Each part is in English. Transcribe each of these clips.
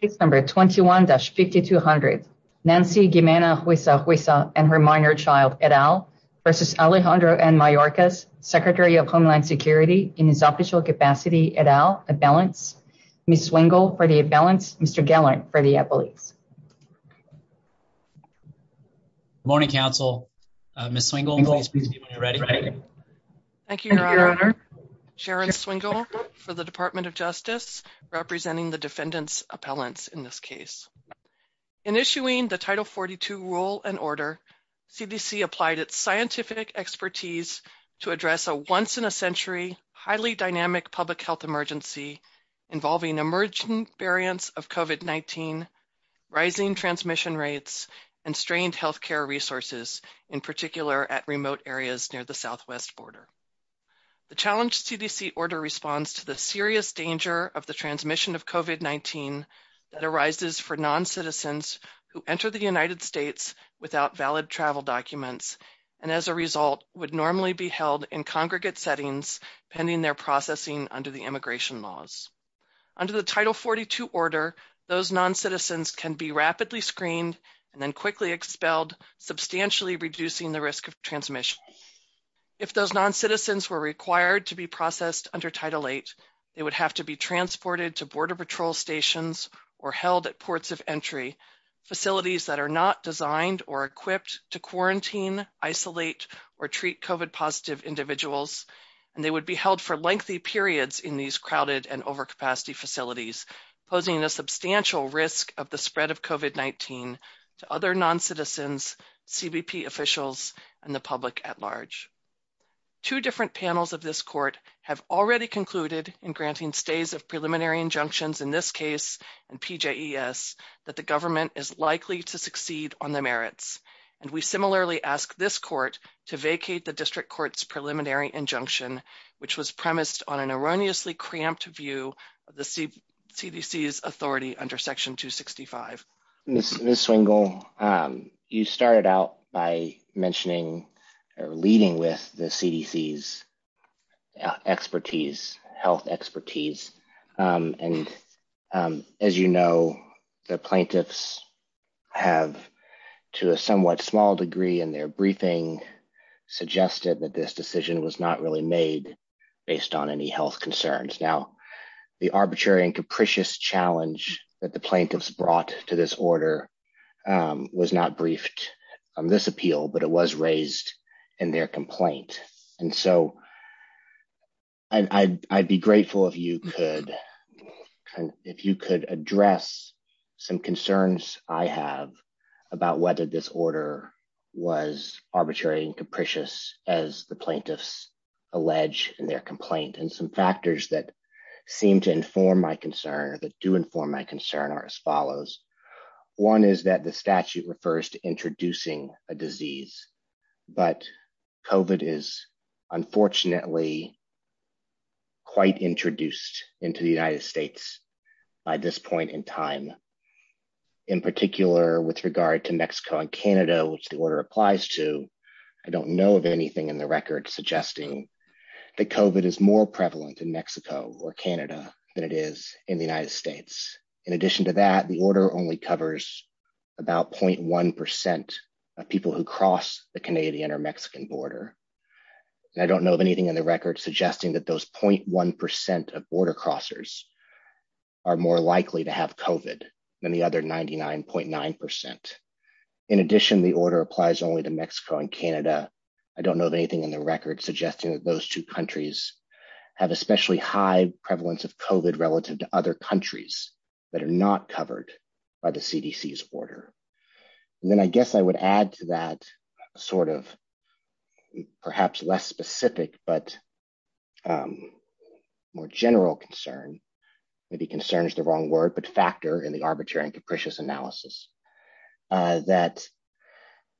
Case No. 21-5200 Nancy Guimena-Huisha-Huisha and her minor child, et al. v. Alejandro N. Mayorkas, Secretary of Homeland Security, in his official capacity, et al., ad valens. Ms. Swingle, for the ad valens. Mr. Gallant, for the appellees. Good morning, counsel. Ms. Swingle. Thank you, Your Honor. Sharon Swingle, for the Department of Justice, representing the defendant's appellants in this case. In issuing the Title 42 rule and order, CDC applied its scientific expertise to address a once-in-a-century, highly dynamic public health emergency involving emergent variants of COVID-19, rising transmission rates, and strained healthcare resources, in particular at remote areas near the southwest border. The challenge CDC order responds to the serious danger of the transmission of COVID-19 that arises for noncitizens who enter the United States without valid travel documents and, as a result, would normally be held in congregate settings pending their processing under the immigration laws. Under the Title 42 order, those noncitizens can be rapidly screened and then quickly expelled, substantially reducing the risk of transmission. If those noncitizens were required to be processed under Title 8, they would have to be transported to border patrol stations or held at ports of entry, facilities that are not designed or equipped to quarantine, isolate, or treat COVID-positive individuals, and they would be held for lengthy periods in these crowded and overcapacity facilities, posing a substantial risk of the spread of COVID-19 to other noncitizens, CBP officials, and the public at large. Two different panels of this court have already concluded, in granting stays of preliminary injunctions in this case and PJES, that the government is likely to succeed on the merits, and we similarly ask this court to vacate the district court's preliminary injunction, which was premised on an erroneously cramped view of the CDC's authority under Section 265. Ms. Swingle, you started out by mentioning or leading with the CDC's expertise, health expertise, and as you know, the plaintiffs have, to a somewhat small degree in their briefing, suggested that this decision was not really made based on any health concerns. Now, the arbitrary and capricious challenge that the plaintiffs brought to this order was not briefed on this appeal, but it was raised in their complaint. And so, I'd be grateful if you could address some concerns I have about whether this order was arbitrary and capricious, as the plaintiffs allege in their complaint, and some factors that seem to inform my concern, that do inform my concern, are as follows. One is that the statute refers to introducing a disease, but COVID is unfortunately quite introduced into the United States by this point in time. In particular, with regard to Mexico and Canada, which the order applies to, I don't know of anything in the record suggesting that COVID is more prevalent in Mexico or Canada than it is in the United States. In addition to that, the order only covers about 0.1% of people who cross the Canadian or Mexican border. I don't know of anything in the record suggesting that those 0.1% of border crossers are more likely to have COVID than the other 99.9%. In addition, the order applies only to Mexico and Canada. I don't know of anything in the record suggesting that those two countries have especially high prevalence of COVID relative to other countries that are not covered by the CDC's order. And then I guess I would add to that sort of perhaps less specific, but more general concern, maybe concern is the wrong word, but factor in the arbitrary and capricious analysis, that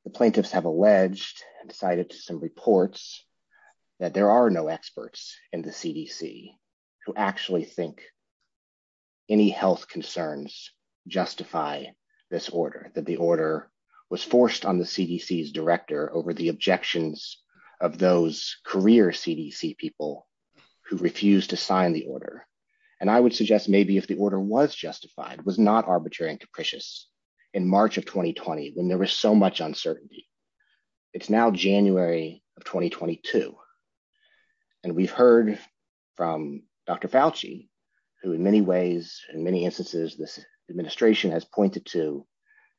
the plaintiffs have alleged and cited some reports that there are no experts in the CDC who actually think any health concerns justify this order, that the order was forced on the CDC's director over the objections of those career CDC people who refused to sign the order. And I would suggest maybe if the order was justified, was not arbitrary and capricious in March of 2020 when there was so much uncertainty. It's now January of 2022. And we've heard from Dr. Fauci, who in many ways, in many instances, the administration has pointed to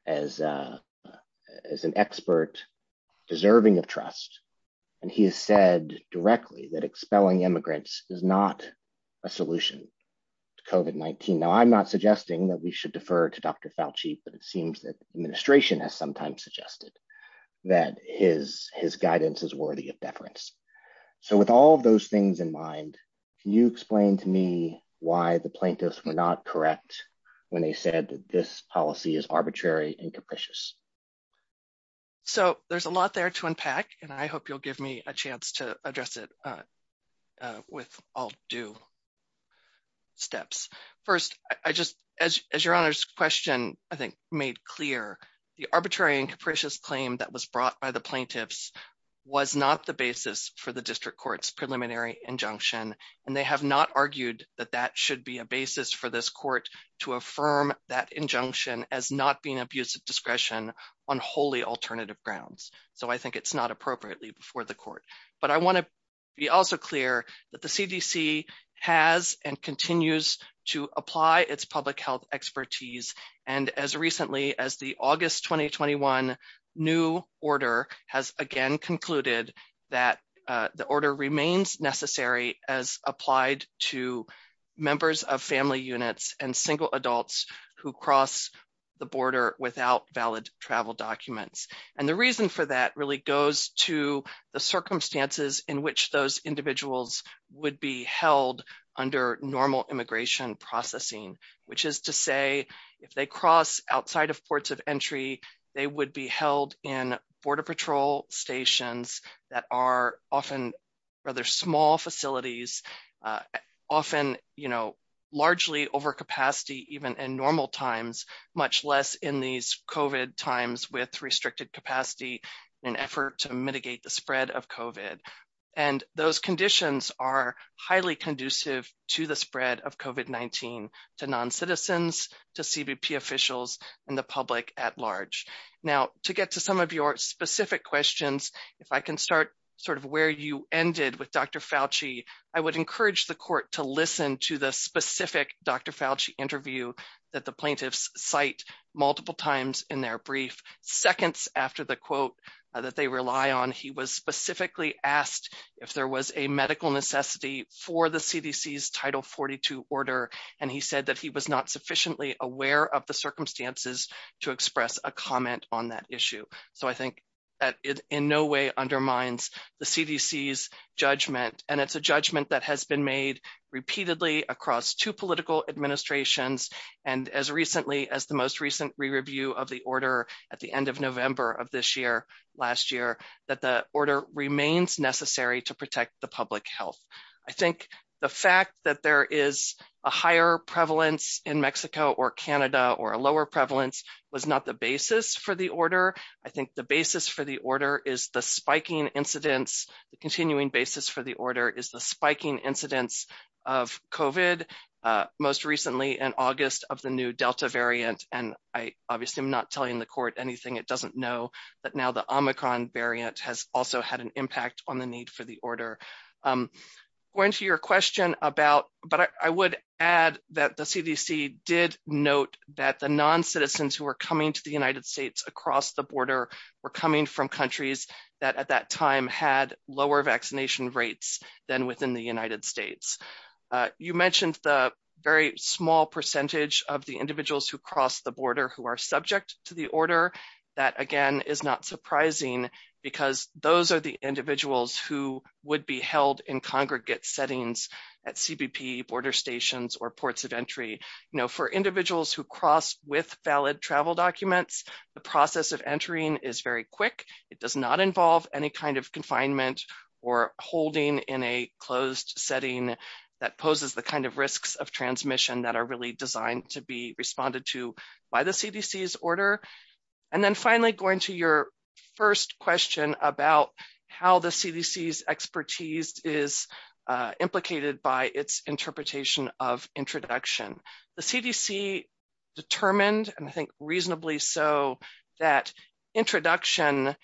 as an expert deserving of trust. And he has said directly that expelling immigrants is not a solution to COVID-19. Now, I'm not suggesting that we should defer to Dr. Fauci, but it seems that the administration has sometimes suggested that his guidance is worthy of deference. So with all those things in mind, can you explain to me why the plaintiffs were not correct when they said that this policy is arbitrary and capricious? So there's a lot there to unpack, and I hope you'll give me a chance to address it with all due steps. First, as your Honor's question, I think, made clear, the arbitrary and capricious claim that was brought by the plaintiffs was not the basis for the district court's preliminary injunction, and they have not argued that that should be a basis for this court to affirm that injunction as not being abuse of discretion on wholly alternative grounds. So I think it's not appropriately before the court. But I want to be also clear that the CDC has and continues to apply its public health expertise. And as recently as the August 2021 new order has again concluded that the order remains necessary as applied to members of family units and single adults who cross the border without valid travel documents. And the reason for that really goes to the circumstances in which those individuals would be held under normal immigration processing, which is to say, if they cross outside of ports of entry, they would be held in border patrol stations that are often rather small facilities, often, you know, largely over capacity, even in normal times, much less in these COVID times with restricted capacity in an effort to mitigate the spread of COVID. And those conditions are highly conducive to the spread of COVID-19 to non-citizens, to CBP officials, and the public at large. Now, to get to some of your specific questions, if I can start sort of where you ended with Dr. Fauci, I would encourage the court to listen to the specific Dr. Fauci interview that the plaintiffs cite multiple times in their brief. Seconds after the quote that they rely on, he was specifically asked if there was a medical necessity for the CDC's Title 42 order. And he said that he was not sufficiently aware of the circumstances to express a comment on that issue. So I think that it in no way undermines the CDC's judgment. And it's a judgment that has been made repeatedly across two political administrations. And as recently as the most recent re-review of the order at the end of November of this year, last year, that the order remains necessary to protect the public health. I think the fact that there is a higher prevalence in Mexico or Canada or a lower prevalence was not the basis for the order. I think the basis for the order is the spiking incidence, the continuing basis for the order is the spiking incidence of COVID. Most recently in August of the new Delta variant. And I obviously am not telling the court anything. It doesn't know that now the Omicron variant has also had an impact on the need for the order. Going to your question about, but I would add that the CDC did note that the non-citizens who are coming to the United States across the border were coming from countries that at that time had lower vaccination rates than within the United States. You mentioned the very small percentage of the individuals who cross the border who are subject to the order. That again is not surprising because those are the individuals who would be held in congregate settings at CBP border stations or ports of entry. For individuals who cross with valid travel documents, the process of entering is very quick. It does not involve any kind of confinement or holding in a closed setting that poses the kind of risks of transmission that are really designed to be responded to by the CDC's order. And then finally going to your first question about how the CDC's expertise is implicated by its interpretation of introduction. The CDC determined and I think reasonably so that introduction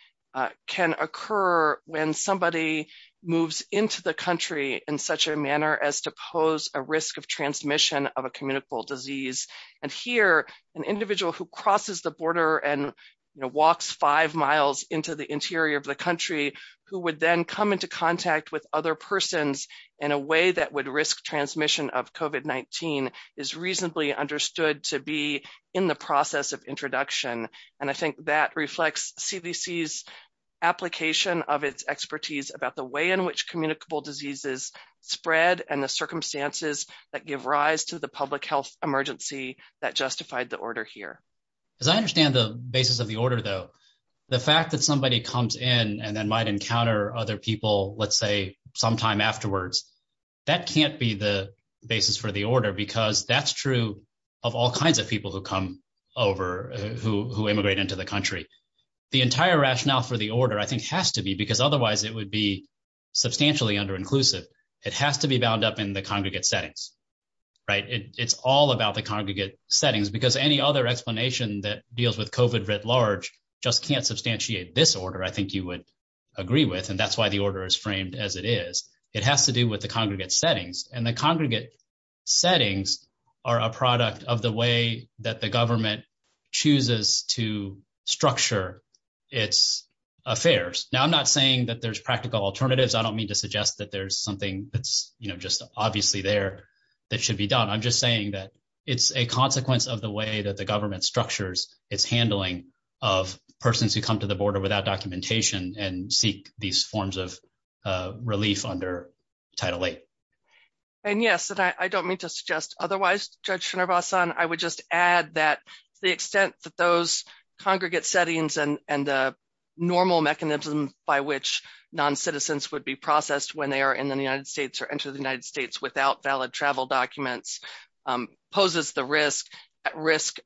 can occur when somebody moves into the country in such a manner as to pose a risk of transmission of a communicable disease. And here an individual who crosses the border and walks five miles into the interior of the country who would then come into contact with other persons in a way that would risk transmission of COVID-19 is reasonably understood to be in the process of introduction. And I think that reflects CDC's application of its expertise about the way in which communicable diseases spread and the circumstances that give rise to the public health emergency that justified the order here. As I understand the basis of the order, though, the fact that somebody comes in and then might encounter other people, let's say, sometime afterwards, that can't be the basis for the order because that's true of all kinds of people who come over, who immigrate into the country. The entire rationale for the order, I think, has to be because otherwise it would be substantially under-inclusive. It has to be bound up in the congregate settings. It's all about the congregate settings because any other explanation that deals with COVID writ large just can't substantiate this order, I think you would agree with, and that's why the order is framed as it is. It has to do with the congregate settings, and the congregate settings are a product of the way that the government chooses to structure its affairs. Now, I'm not saying that there's practical alternatives. I don't mean to suggest that there's something that's just obviously there that should be done. I'm just saying that it's a consequence of the way that the government structures its handling of persons who come to the border without documentation and seek these forms of relief under Title VIII. Yes, I don't mean to suggest otherwise, Judge Srinivasan. I would just add that the extent that those congregate settings and the normal mechanism by which non-citizens would be processed when they are in the United States or enter the United States without valid travel documents poses the risk. I would just add that there is a risk that the government at risk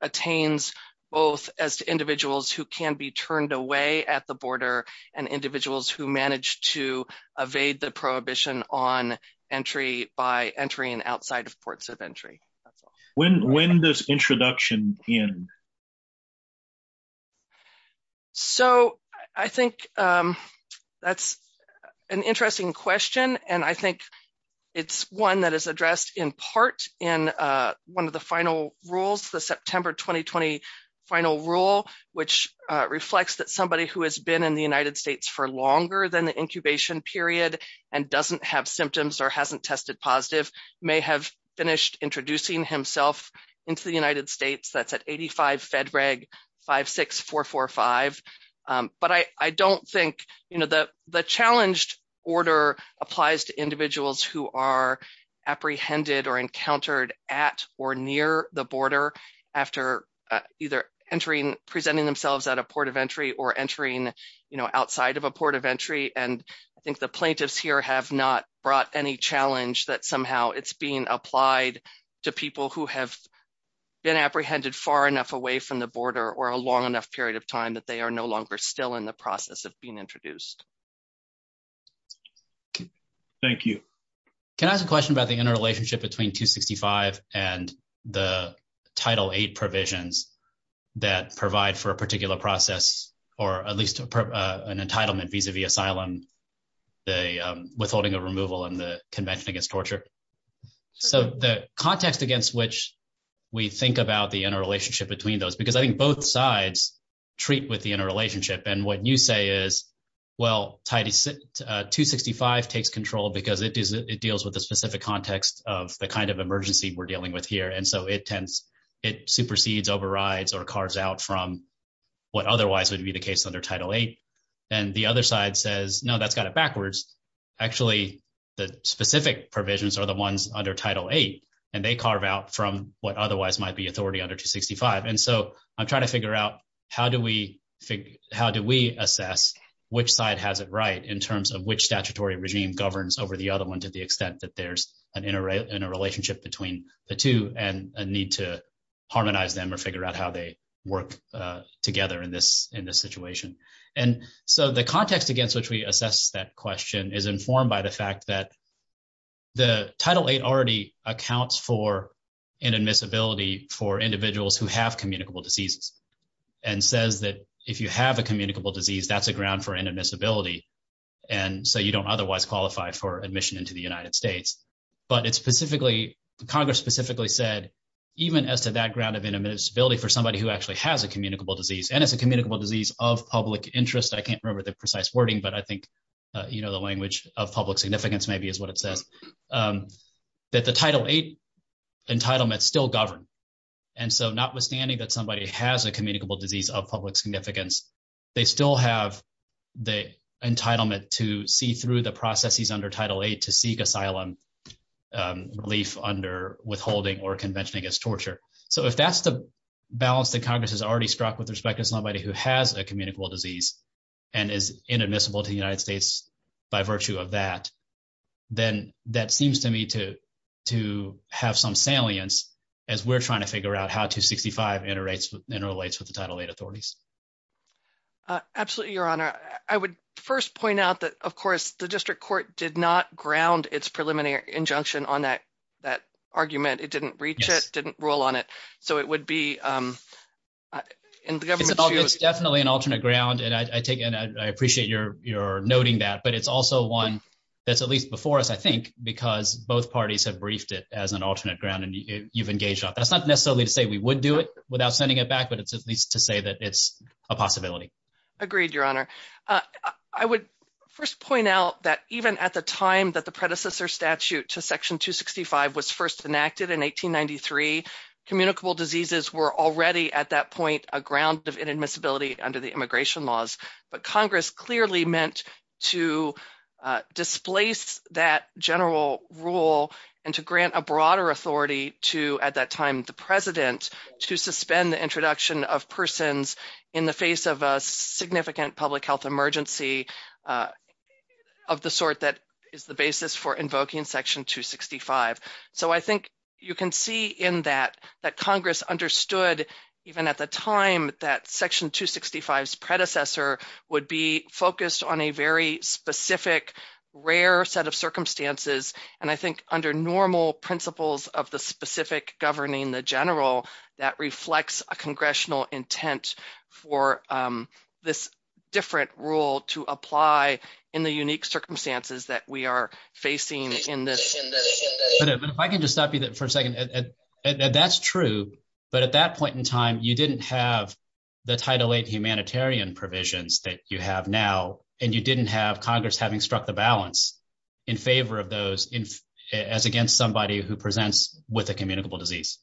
attains both as individuals who can be turned away at the border and individuals who manage to evade the prohibition on entry by entering outside of ports of entry. When does introduction end? I think that's an interesting question, and I think it's one that is addressed in part in one of the final rules, the September 2020 final rule, which reflects that somebody who has been in the United States for longer than the incubation period and doesn't have symptoms or hasn't tested positive may have finished introducing himself into the United States. That's at 85 FEDREG 56445. But I don't think, you know, the challenged order applies to individuals who are apprehended or encountered at or near the border after either entering presenting themselves at a port of entry or entering, you know, outside of a port of entry. And I think the plaintiffs here have not brought any challenge that somehow it's being applied to people who have been apprehended far enough away from the border or a long enough period of time that they are no longer still in the process of being introduced. Thank you. Can I ask a question about the interrelationship between 265 and the title eight provisions that provide for a particular process, or at least an entitlement vis-a-vis asylum, the withholding of removal and the convention against torture? So the context against which we think about the interrelationship between those, because I think both sides treat with the interrelationship. And what you say is, well, 265 takes control because it deals with the specific context of the kind of emergency we're dealing with here. And so it supersedes, overrides, or carves out from what otherwise would be the case under title eight. And the other side says, no, that's kind of backwards. Actually, the specific provisions are the ones under title eight, and they carve out from what otherwise might be authority under 265. And so I'm trying to figure out how do we assess which side has it right in terms of which statutory regime governs over the other one to the extent that there's an interrelationship between the two and a need to harmonize them or figure out how they work together in this situation. And so the context against which we assess that question is informed by the fact that the title eight already accounts for inadmissibility for individuals who have communicable diseases and says that if you have a communicable disease, that's a ground for inadmissibility. And so you don't otherwise qualify for admission into the United States. But it's specifically, Congress specifically said, even as to that ground of inadmissibility for somebody who actually has a communicable disease, and it's a communicable disease of public interest. I can't remember the precise wording, but I think the language of public significance maybe is what it says. But the title eight entitlement still governs. And so notwithstanding that somebody has a communicable disease of public significance, they still have the entitlement to see through the processes under title eight to seek asylum relief under withholding or convention against torture. So if that's the balance that Congress has already struck with respect to somebody who has a communicable disease and is inadmissible to the United States by virtue of that, then that seems to me to have some salience as we're trying to figure out how 265 interrelates with the title eight authorities. Absolutely, Your Honor. I would first point out that, of course, the district court did not ground its preliminary injunction on that argument. It didn't reach it, didn't rule on it. So it would be in the government's view. That's not necessarily to say we would do it without sending it back, but it's at least to say that it's a possibility. Agreed, Your Honor. I would first point out that even at the time that the predecessor statute to section 265 was first enacted in 1893, communicable diseases were already at that point a ground of inadmissibility under the immigration laws. But Congress clearly meant to displace that general rule and to grant a broader authority to, at that time, the president, to suspend the introduction of persons in the face of a significant public health emergency of the sort that is the basis for invoking section 265. So I think you can see in that that Congress understood, even at the time that section 265's predecessor would be focused on a very specific, rare set of circumstances. And I think under normal principles of the specific governing the general, that reflects a congressional intent for this different rule to apply in the unique circumstances that we are facing in this. If I can just stop you for a second. That's true. But at that point in time, you didn't have the Title VIII humanitarian provisions that you have now, and you didn't have Congress having struck the balance in favor of those as against somebody who presents with a communicable disease.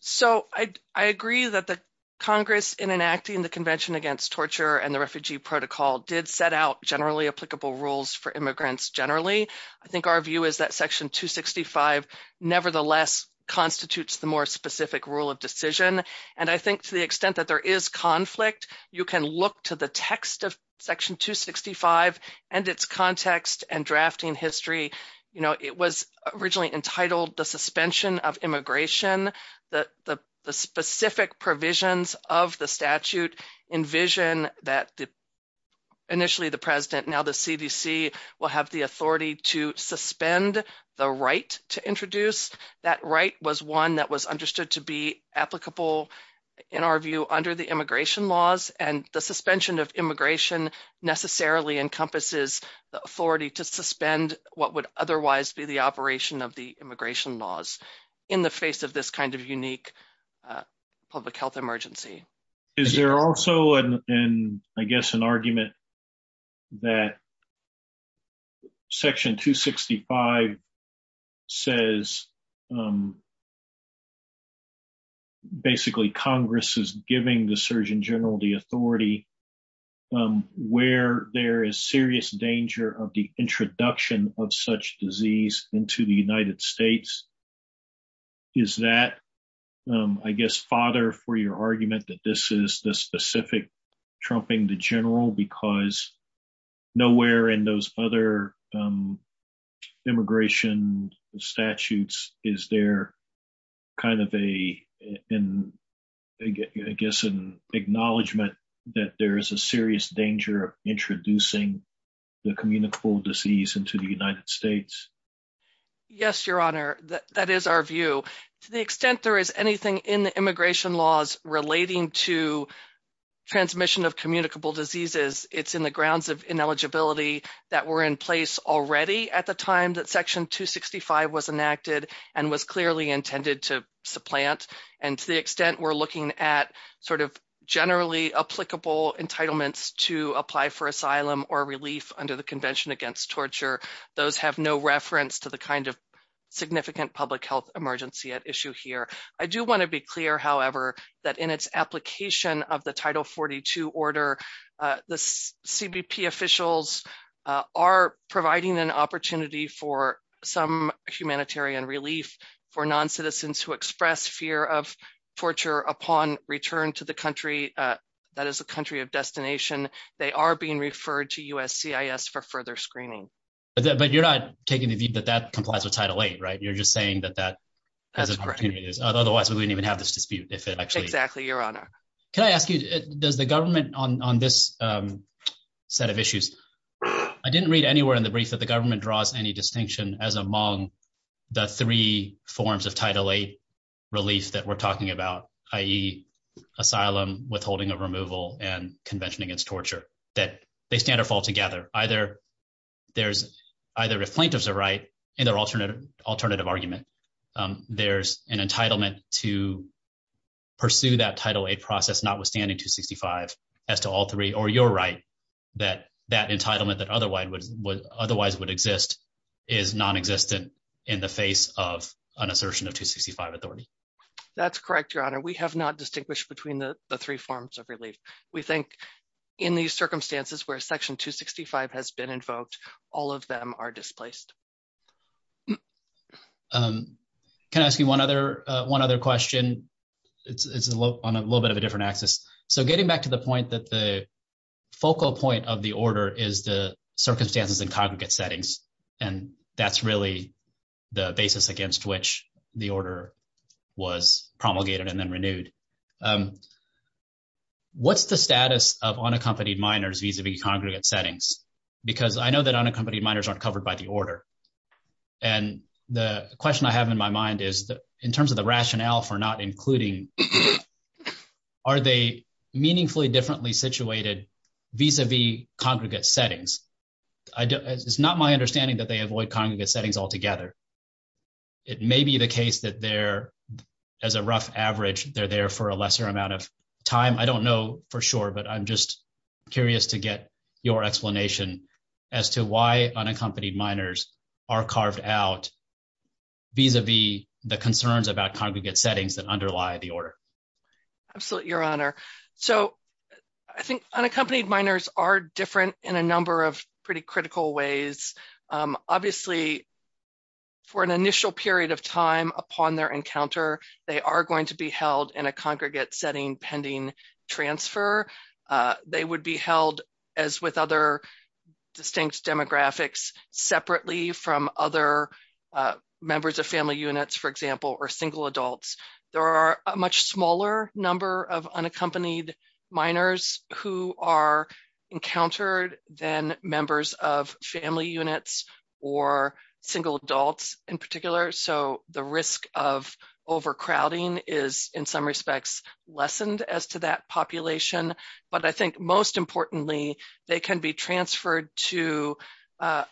So I agree that the Congress, in enacting the Convention Against Torture and the Refugee Protocol, did set out generally applicable rules for immigrants generally. I think our view is that section 265 nevertheless constitutes the more specific rule of decision. And I think to the extent that there is conflict, you can look to the text of section 265 and its context and drafting history. It was originally entitled the Suspension of Immigration. The specific provisions of the statute envision that initially the president, now the CDC, will have the authority to suspend the right to introduce. That right was one that was understood to be applicable, in our view, under the immigration laws. And the suspension of immigration necessarily encompasses the authority to suspend what would otherwise be the operation of the immigration laws in the face of this kind of unique public health emergency. Is there also, I guess, an argument that section 265 says basically Congress is giving the Surgeon General the authority where there is serious danger of the introduction of such disease into the United States? Is that, I guess, fodder for your argument that this is the specific trumping the general because nowhere in those other immigration statutes is there kind of a, I guess, an acknowledgment that there is a serious danger of introducing the communicable disease into the United States? Yes, Your Honor. That is our view. To the extent there is anything in the immigration laws relating to transmission of communicable diseases, it's in the grounds of ineligibility that were in place already at the time that section 265 was enacted and was clearly intended to supplant. And to the extent we're looking at sort of generally applicable entitlements to apply for asylum or relief under the Convention Against Torture, those have no reference to the kind of significant public health emergency at issue here. I do want to be clear, however, that in its application of the Title 42 order, the CBP officials are providing an opportunity for some humanitarian relief for noncitizens who express fear of torture upon return to the country that is the country of destination. They are being referred to USCIS for further screening. But you're not taking the view that that complies with Title 8, right? You're just saying that that has opportunities. Otherwise, we wouldn't even have this dispute if it actually is. Exactly, Your Honor. Can I ask you, does the government on this set of issues – I didn't read anywhere in the brief that the government draws any distinction as among the three forms of Title 8 relief that we're talking about, i.e. asylum, withholding of removal, and Convention Against Torture, that they stand or fall together. Either the plaintiffs are right in their alternative argument. There's an entitlement to pursue that Title 8 process notwithstanding 265 as to all three, or you're right that that entitlement that otherwise would exist is nonexistent in the face of an assertion of 265 authority. That's correct, Your Honor. We have not distinguished between the three forms of relief. We think in these circumstances where Section 265 has been invoked, all of them are displaced. Can I ask you one other question? It's on a little bit of a different axis. So getting back to the point that the focal point of the order is the circumstances in congregate settings, and that's really the basis against which the order was promulgated and then renewed. What's the status of unaccompanied minors vis-a-vis congregate settings? Because I know that unaccompanied minors aren't covered by the order, and the question I have in my mind is, in terms of the rationale for not including, are they meaningfully differently situated vis-a-vis congregate settings? It's not my understanding that they avoid congregate settings altogether. It may be the case that they're, as a rough average, they're there for a lesser amount of time. I don't know for sure, but I'm just curious to get your explanation as to why unaccompanied minors are carved out vis-a-vis the concerns about congregate settings that underlie the order. Absolutely, Your Honor. So I think unaccompanied minors are different in a number of pretty critical ways. Obviously, for an initial period of time upon their encounter, they are going to be held in a congregate setting pending transfer. They would be held, as with other distinct demographics, separately from other members of family units, for example, or single adults. There are a much smaller number of unaccompanied minors who are encountered than members of family units or single adults in particular, so the risk of overcrowding is, in some respects, lessened as to that population. But I think most importantly, they can be transferred to the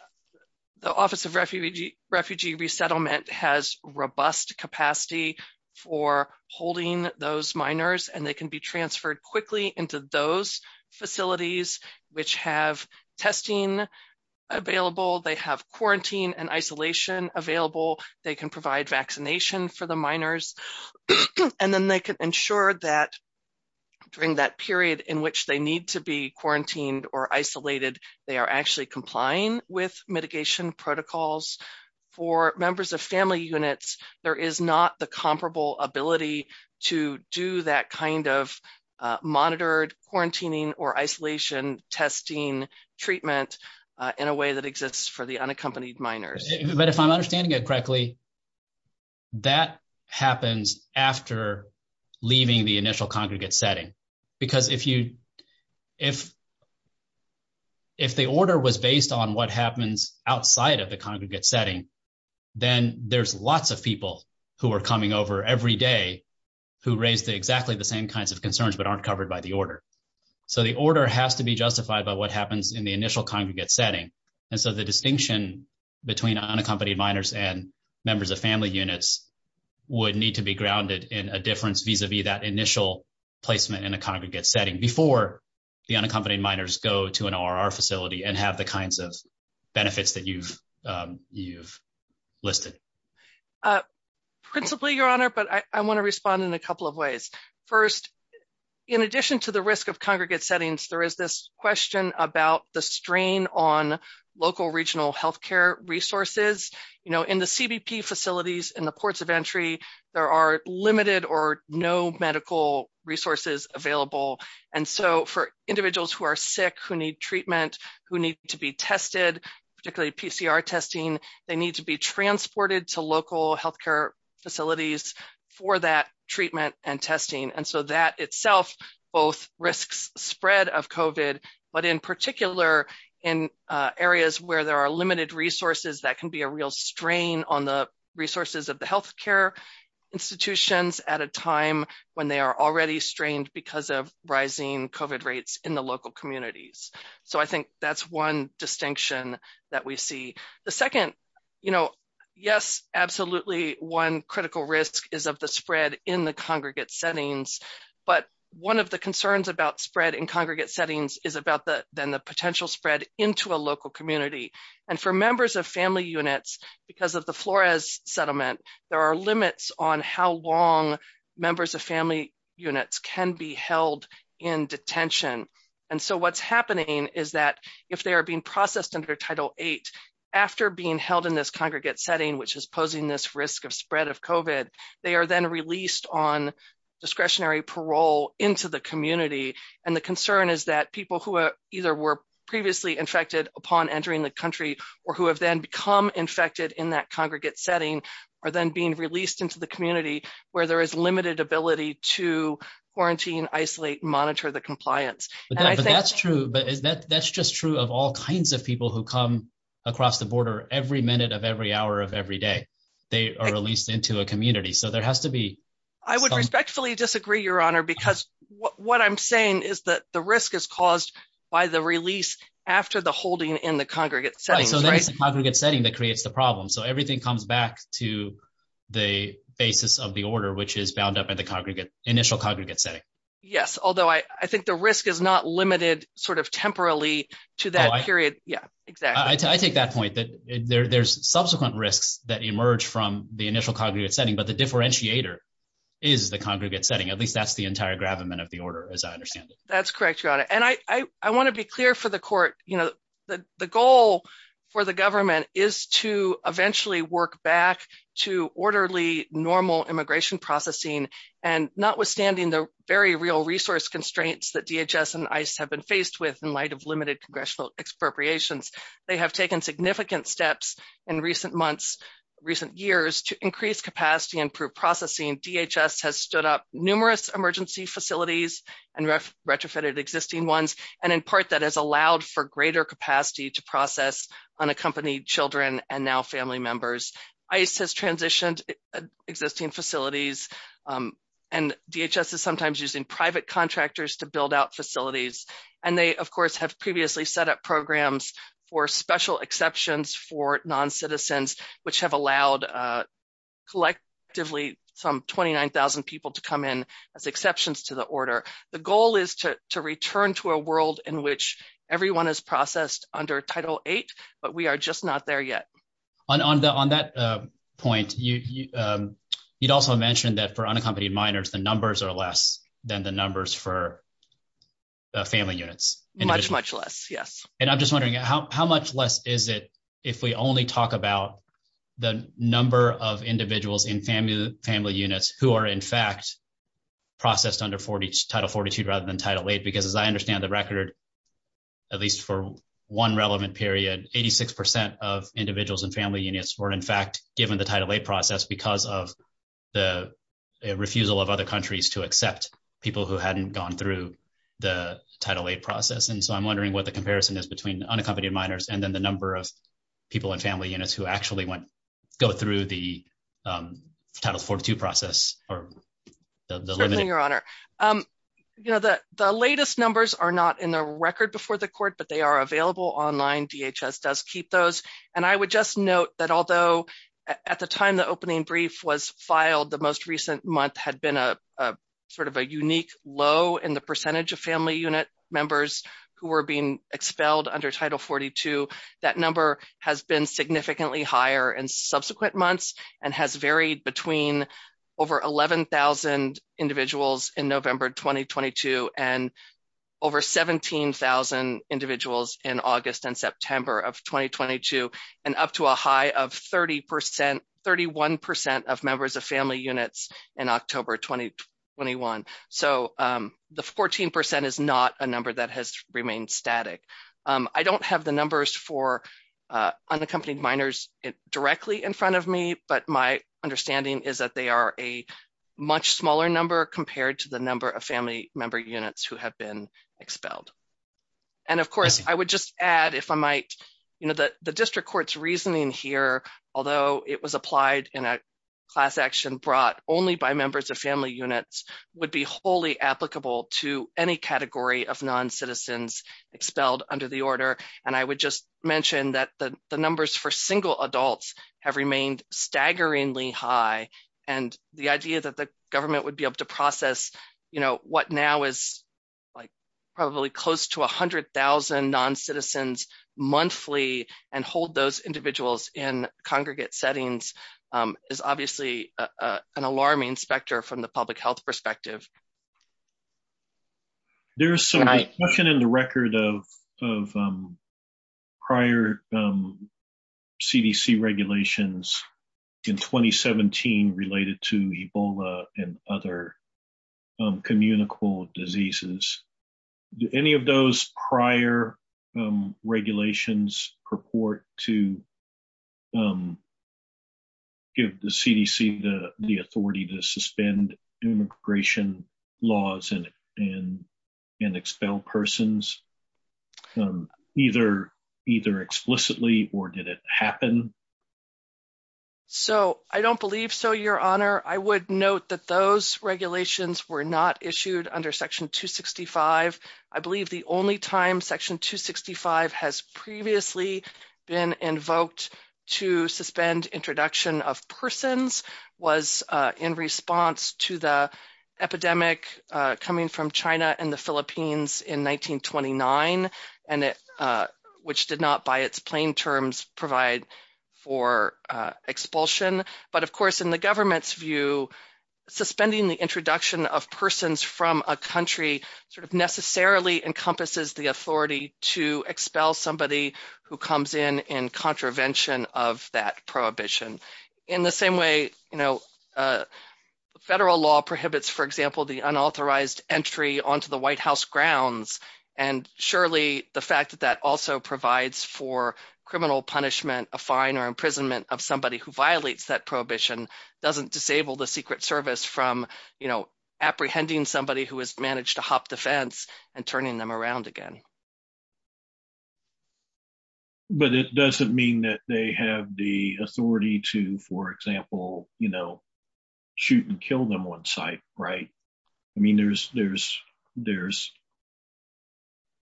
Office of Refugee Resettlement, which has robust capacity for holding those minors, and they can be transferred quickly into those facilities, which have testing available. They have quarantine and isolation available. They can provide vaccination for the minors, and then they can ensure that during that period in which they need to be quarantined or isolated, they are actually complying with mitigation protocols. For members of family units, there is not the comparable ability to do that kind of monitored quarantining or isolation testing treatment in a way that exists for the unaccompanied minors. But if I'm understanding it correctly, that happens after leaving the initial congregate setting. Because if the order was based on what happens outside of the congregate setting, then there's lots of people who are coming over every day who raise exactly the same kinds of concerns but aren't covered by the order. So the order has to be justified by what happens in the initial congregate setting. And so the distinction between unaccompanied minors and members of family units would need to be grounded in a difference vis-a-vis that initial placement in a congregate setting before the unaccompanied minors go to an RR facility and have the kinds of benefits that you've listed. Principally, Your Honor, but I want to respond in a couple of ways. First, in addition to the risk of congregate settings, there is this question about the strain on local regional health care resources. In the CBP facilities, in the ports of entry, there are limited or no medical resources available. And so for individuals who are sick, who need treatment, who need to be tested, particularly PCR testing, they need to be transported to local health care facilities for that treatment and testing. And so that itself both risks the spread of COVID, but in particular, in areas where there are limited resources, that can be a real strain on the resources of the health care institutions at a time when they are already strained because of rising COVID rates in the local communities. So I think that's one distinction that we see. The second, you know, yes, absolutely one critical risk is of the spread in the congregate settings. But one of the concerns about spread in congregate settings is about the potential spread into a local community. And for members of family units, because of the Flores settlement, there are limits on how long members of family units can be held in detention. And so what's happening is that if they are being processed under Title VIII, after being held in this congregate setting, which is posing this risk of spread of COVID, they are then released on discretionary parole into the community. And the concern is that people who either were previously infected upon entering the country, or who have then become infected in that congregate setting, are then being released into the community, where there is limited ability to quarantine, isolate, monitor the compliance. But that's true, but that's just true of all kinds of people who come across the border every minute of every hour of every day. They are released into the community. So there has to be... I would respectfully disagree, Your Honor, because what I'm saying is that the risk is caused by the release after the holding in the congregate setting. Right, so that's the congregate setting that creates the problem. So everything comes back to the basis of the order, which is bound up in the congregate, initial congregate setting. Yes, although I think the risk is not limited sort of temporally to that period. Yeah, exactly. I take that point that there's subsequent risks that emerge from the initial congregate setting, but the differentiator is the congregate setting. At least that's the entire gravamen of the order, as I understand it. That's correct, Your Honor. And I want to be clear for the court, you know, the goal for the government is to eventually work back to orderly, normal immigration processing. And notwithstanding the very real resource constraints that DHS and ICE have been faced with in light of limited congressional expropriations, they have taken significant steps in recent months, recent years, to increase capacity and improve processing. DHS has stood up numerous emergency facilities and retrofitted existing ones, and in part that has allowed for greater capacity to process unaccompanied children and now family members. ICE has transitioned existing facilities, and DHS is sometimes using private contractors to build out facilities. And they, of course, have previously set up programs for special exceptions for non-citizens, which have allowed collectively some 29,000 people to come in as exceptions to the order. The goal is to return to a world in which everyone is processed under Title VIII, but we are just not there yet. On that point, you also mentioned that for unaccompanied minors, the numbers are less than the numbers for the family units. Much, much less, yes. And I'm just wondering, how much less is it if we only talk about the number of individuals in family units who are, in fact, processed under Title XLII rather than Title VIII? Because as I understand the record, at least for one relevant period, 86% of individuals in family units were, in fact, given the Title VIII process because of the refusal of other countries to accept people who hadn't gone through the Title VIII process. And so I'm wondering what the comparison is between unaccompanied minors and then the number of people in family units who actually go through the Title IV-II process. Certainly, Your Honor. The latest numbers are not in the record before the court, but they are available online. DHS does keep those. And I would just note that although at the time the opening brief was filed, the most recent month had been a sort of a unique low in the percentage of family unit members who were being expelled under Title XLII. That number has been significantly higher in subsequent months and has varied between over 11,000 individuals in November 2022 and over 17,000 individuals in August and September of 2022, and up to a high of 31% of members of family units in October 2021. So the 14% is not a number that has remained static. I don't have the numbers for unaccompanied minors directly in front of me, but my understanding is that they are a much smaller number compared to the number of family member units who have been expelled. And of course, I would just add, if I might, that the district court's reasoning here, although it was applied in a class action brought only by members of family units, would be wholly applicable to any category of non-citizens expelled under the order. And I would just mention that the numbers for single adults have remained staggeringly high, and the idea that the government would be able to process what now is probably close to 100,000 non-citizens monthly and hold those individuals in congregate settings is obviously an alarming specter from the public health perspective. There is some discussion in the record of prior CDC regulations in 2017 related to Ebola and other communicable diseases. Do any of those prior regulations purport to give the CDC the authority to suspend immigration laws and expel persons, either explicitly or did it happen? I don't believe so, Your Honor. I would note that those regulations were not issued under Section 265. I believe the only time Section 265 has previously been invoked to suspend introduction of persons was in response to the epidemic coming from China and the Philippines in 1929, which did not, by its plain terms, provide for expulsion. But, of course, in the government's view, suspending the introduction of persons from a country necessarily encompasses the authority to expel somebody who comes in in contravention of that prohibition. In the same way, federal law prohibits, for example, the unauthorized entry onto the White House grounds, and surely the fact that that also provides for criminal punishment, a fine, or imprisonment of somebody who violates that prohibition doesn't disable the Secret Service from apprehending somebody who has managed to hop the fence and turning them around again. But it doesn't mean that they have the authority to, for example, shoot and kill them on sight, right? I mean,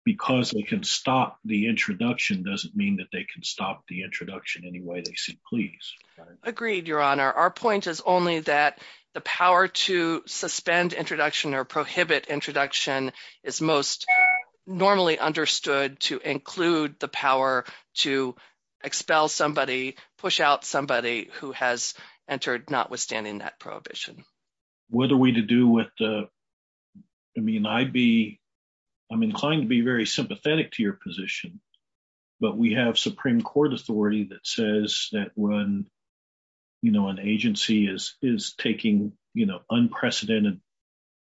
because they can stop the introduction doesn't mean that they can stop the introduction any way they see please. Agreed, Your Honor. Our point is only that the power to suspend introduction or prohibit introduction is most normally understood to include the power to expel somebody, push out somebody who has entered notwithstanding that prohibition. What are we to do with the, I mean, I'd be, I'm inclined to be very sympathetic to your position, but we have Supreme Court authority that says that when, you know, an agency is taking, you know, unprecedented,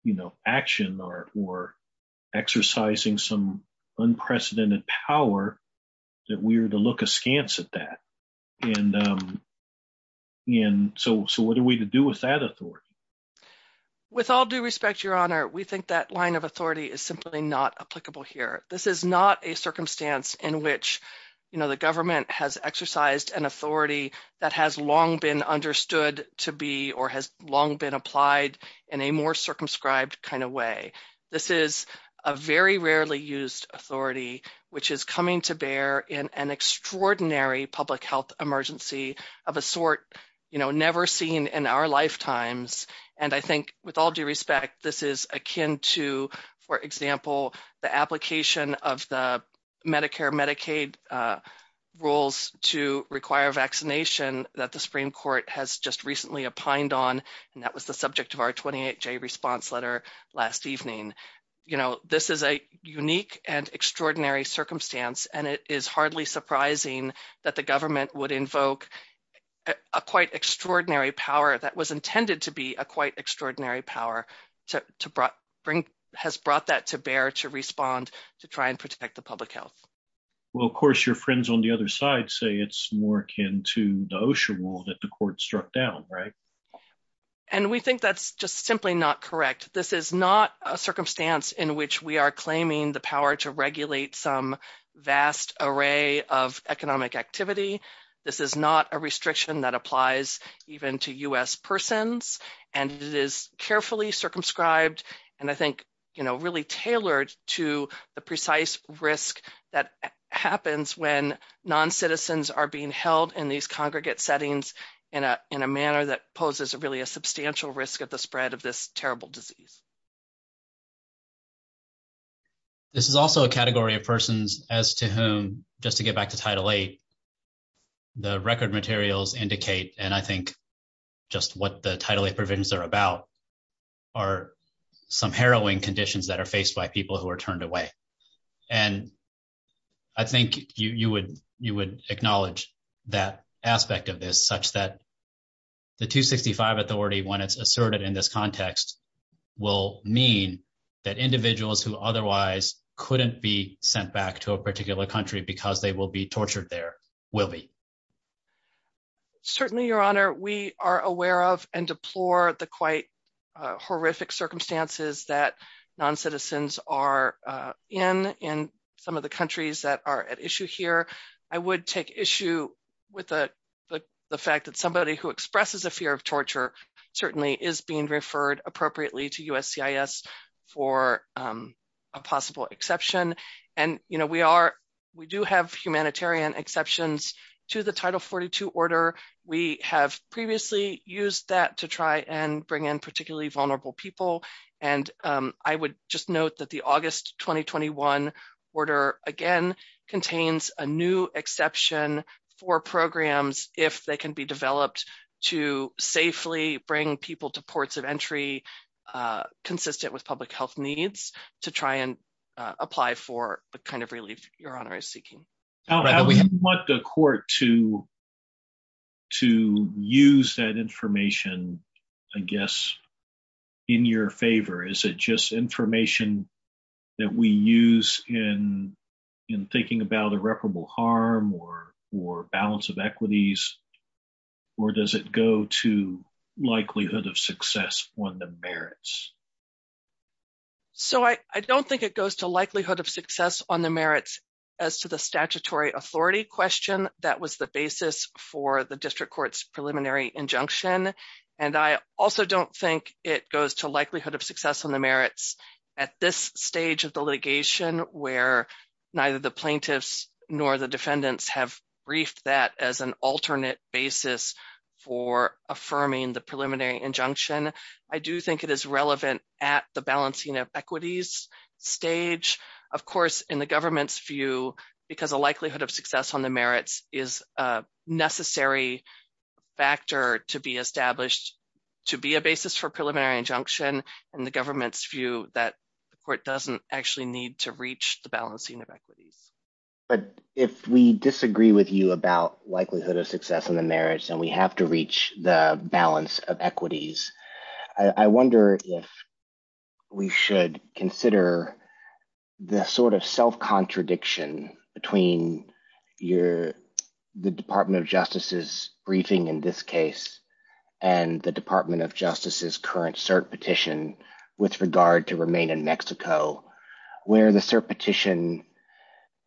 you know, action or exercising some unprecedented power, that we are to look askance at that. And so what are we to do with that authority? of a sort, you know, never seen in our lifetimes. And I think with all due respect, this is akin to, for example, the application of the Medicare Medicaid rules to require vaccination that the Supreme Court has just recently opined on. And that was the subject of our 28-J response letter last evening. You know, this is a unique and extraordinary circumstance, and it is hardly surprising that the government would invoke a quite extraordinary power that was intended to be a quite extraordinary power to bring, has brought that to bear to respond to try and protect the public health. Well, of course, your friends on the other side say it's more akin to the OSHA rule that the court struck down, right? And we think that's just simply not correct. This is not a circumstance in which we are claiming the power to regulate some vast array of economic activity. This is not a restriction that applies even to U.S. persons, and it is carefully circumscribed and I think, you know, really tailored to the precise risk that happens when non-citizens are being held in these congregate settings in a manner that poses really a substantial risk of the spread of this terrible disease. This is also a category of persons as to whom, just to get back to Title VIII, the record materials indicate, and I think just what the Title VIII provisions are about, are some harrowing conditions that are faced by people who are turned away. And I think you would acknowledge that aspect of this, such that the 265 authority, when it's asserted in this context, will mean that individuals who otherwise couldn't be sent back to a particular country because they will be tortured there will be. Certainly, Your Honor, we are aware of and deplore the quite horrific circumstances that non-citizens are in in some of the countries that are at issue here. I would take issue with the fact that somebody who expresses a fear of torture certainly is being referred appropriately to USCIS for a possible exception. And, you know, we do have humanitarian exceptions to the Title 42 order. We have previously used that to try and bring in particularly vulnerable people. And I would just note that the August 2021 order, again, contains a new exception for programs if they can be developed to safely bring people to ports of entry consistent with public health needs to try and apply for the kind of relief Your Honor is seeking. I would want the court to use that information, I guess, in your favor. Is it just information that we use in thinking about irreparable harm or balance of equities? Or does it go to likelihood of success on the merits? So I don't think it goes to likelihood of success on the merits as to the statutory authority question. That was the basis for the district court's preliminary injunction. And I also don't think it goes to likelihood of success on the merits at this stage of the litigation where neither the plaintiffs nor the defendants have briefed that as an alternate basis for affirming the preliminary injunction. I do think it is relevant at the balancing of equities stage, of course, in the government's view, because the likelihood of success on the merits is a necessary factor to be established to be a basis for preliminary injunction in the government's view that the court doesn't actually need to reach the balancing of equities. But if we disagree with you about likelihood of success on the merits and we have to reach the balance of equities, I wonder if we should consider the sort of self-contradiction between the Department of Justice's briefing in this case and the Department of Justice's current cert petition with regard to remain in Mexico, where the cert petition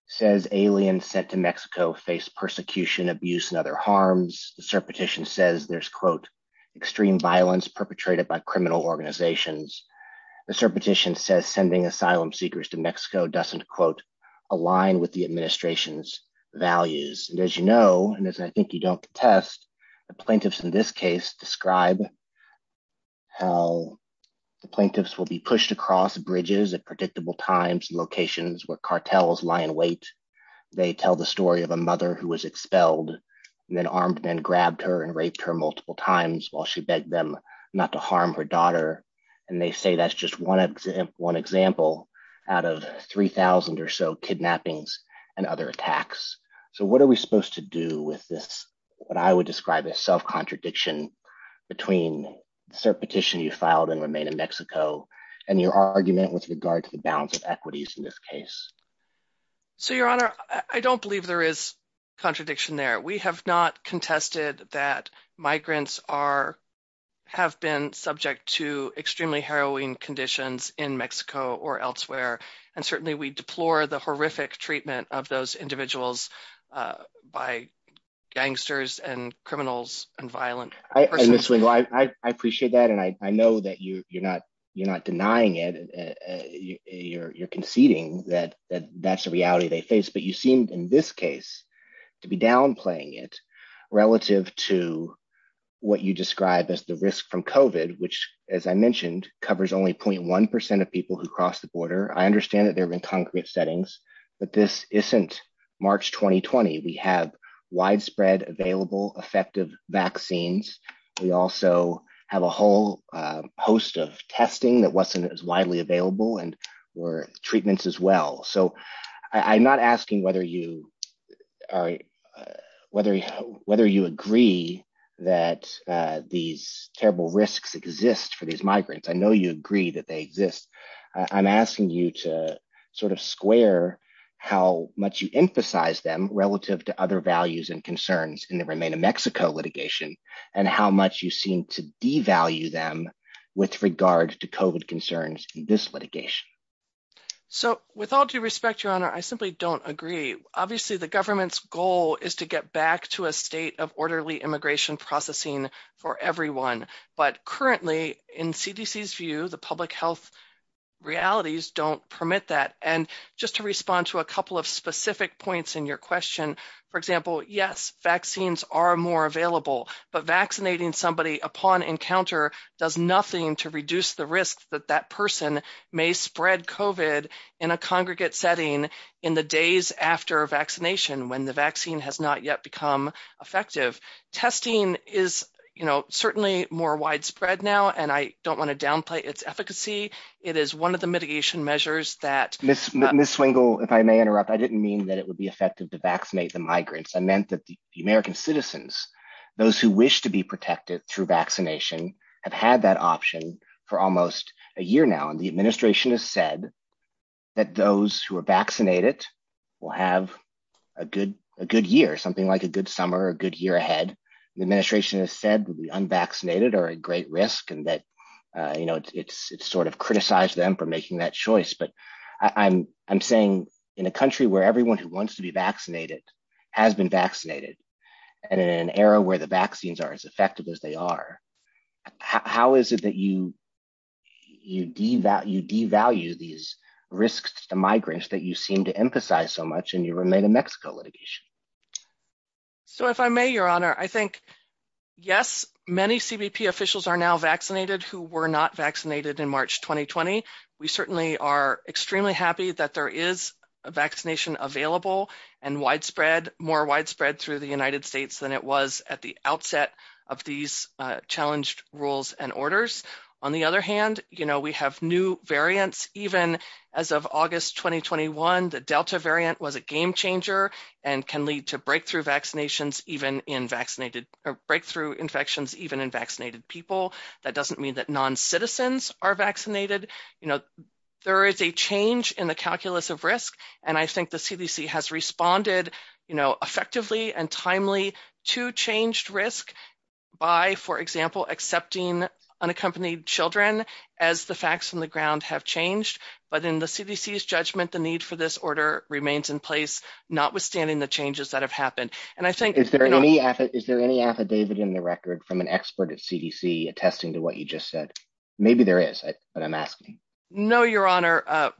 says aliens sent to Mexico face persecution, abuse, and other harms. The cert petition says there's, quote, extreme violence perpetrated by criminal organizations. The cert petition says sending asylum seekers to Mexico doesn't, quote, align with the administration's values. And as you know, and as I think you don't contest, the plaintiffs in this case describe how the plaintiffs will be pushed across bridges at predictable times and locations where cartels lie in wait. They tell the story of a mother who was expelled and then armed men grabbed her and raped her multiple times while she begged them not to harm her daughter. And they say that's just one example out of 3,000 or so kidnappings and other attacks. So what are we supposed to do with this, what I would describe as self-contradiction between cert petition you filed in remain in Mexico and your argument with regard to the balance of equities in this case? So, Your Honor, I don't believe there is contradiction there. We have not contested that migrants have been subject to extremely harrowing conditions in Mexico or elsewhere. And certainly we deplore the horrific treatment of those individuals by gangsters and criminals and violent persons. I appreciate that. And I know that you're not denying it. You're conceding that that's the reality they face. But you seem in this case to be downplaying it relative to what you describe as the risk from COVID, which, as I mentioned, covers only 0.1% of people who cross the border. I understand that they're in concrete settings, but this isn't March 2020. We have widespread available effective vaccines. We also have a whole host of testing that wasn't as widely available and were treatments as well. So I'm not asking whether you agree that these terrible risks exist for these migrants. I know you agree that they exist. I'm asking you to sort of square how much you emphasize them relative to other values and concerns in the remain in Mexico litigation and how much you seem to devalue them with regard to COVID concerns in this litigation. So with all due respect, Your Honor, I simply don't agree. Obviously, the government's goal is to get back to a state of orderly immigration processing for everyone. But currently in CDC's view, the public health realities don't permit that. And just to respond to a couple of specific points in your question, for example, yes, vaccines are more available. But vaccinating somebody upon encounter does nothing to reduce the risk that that person may spread COVID in a congregate setting in the days after vaccination when the vaccine has not yet become effective. Testing is, you know, certainly more widespread now. And I don't want to downplay its efficacy. It is one of the mitigation measures that Ms. Swingle, if I may interrupt, I didn't mean that it would be effective to vaccinate the migrants. I meant that the American citizens, those who wish to be protected through vaccination, have had that option for almost a year now. The administration has said that those who are vaccinated will have a good year, something like a good summer, a good year ahead. The administration has said that the unvaccinated are at great risk and that, you know, it's sort of criticized them for making that choice. But I'm saying in a country where everyone who wants to be vaccinated has been vaccinated and in an era where the vaccines are as effective as they are, how is it that you devalue these risks to migrants that you seem to emphasize so much and you remain a Mexico litigation? So if I may, Your Honor, I think, yes, many CBP officials are now vaccinated who were not vaccinated in March 2020. We certainly are extremely happy that there is a vaccination available and widespread, more widespread through the United States than it was at the outset of these challenged rules and orders. On the other hand, you know, we have new variants. Even as of August 2021, the Delta variant was a game changer and can lead to breakthrough infections even in vaccinated people. That doesn't mean that non-citizens are vaccinated. You know, there is a change in the calculus of risk, and I think the CDC has responded, you know, effectively and timely to changed risk by, for example, accepting unaccompanied children as the facts from the ground have changed. But in the CDC's judgment, the need for this order remains in place, notwithstanding the changes that have happened. Is there any affidavit in the record from an expert at CDC attesting to what you just said? Maybe there is, but I'm asking. No, Your Honor,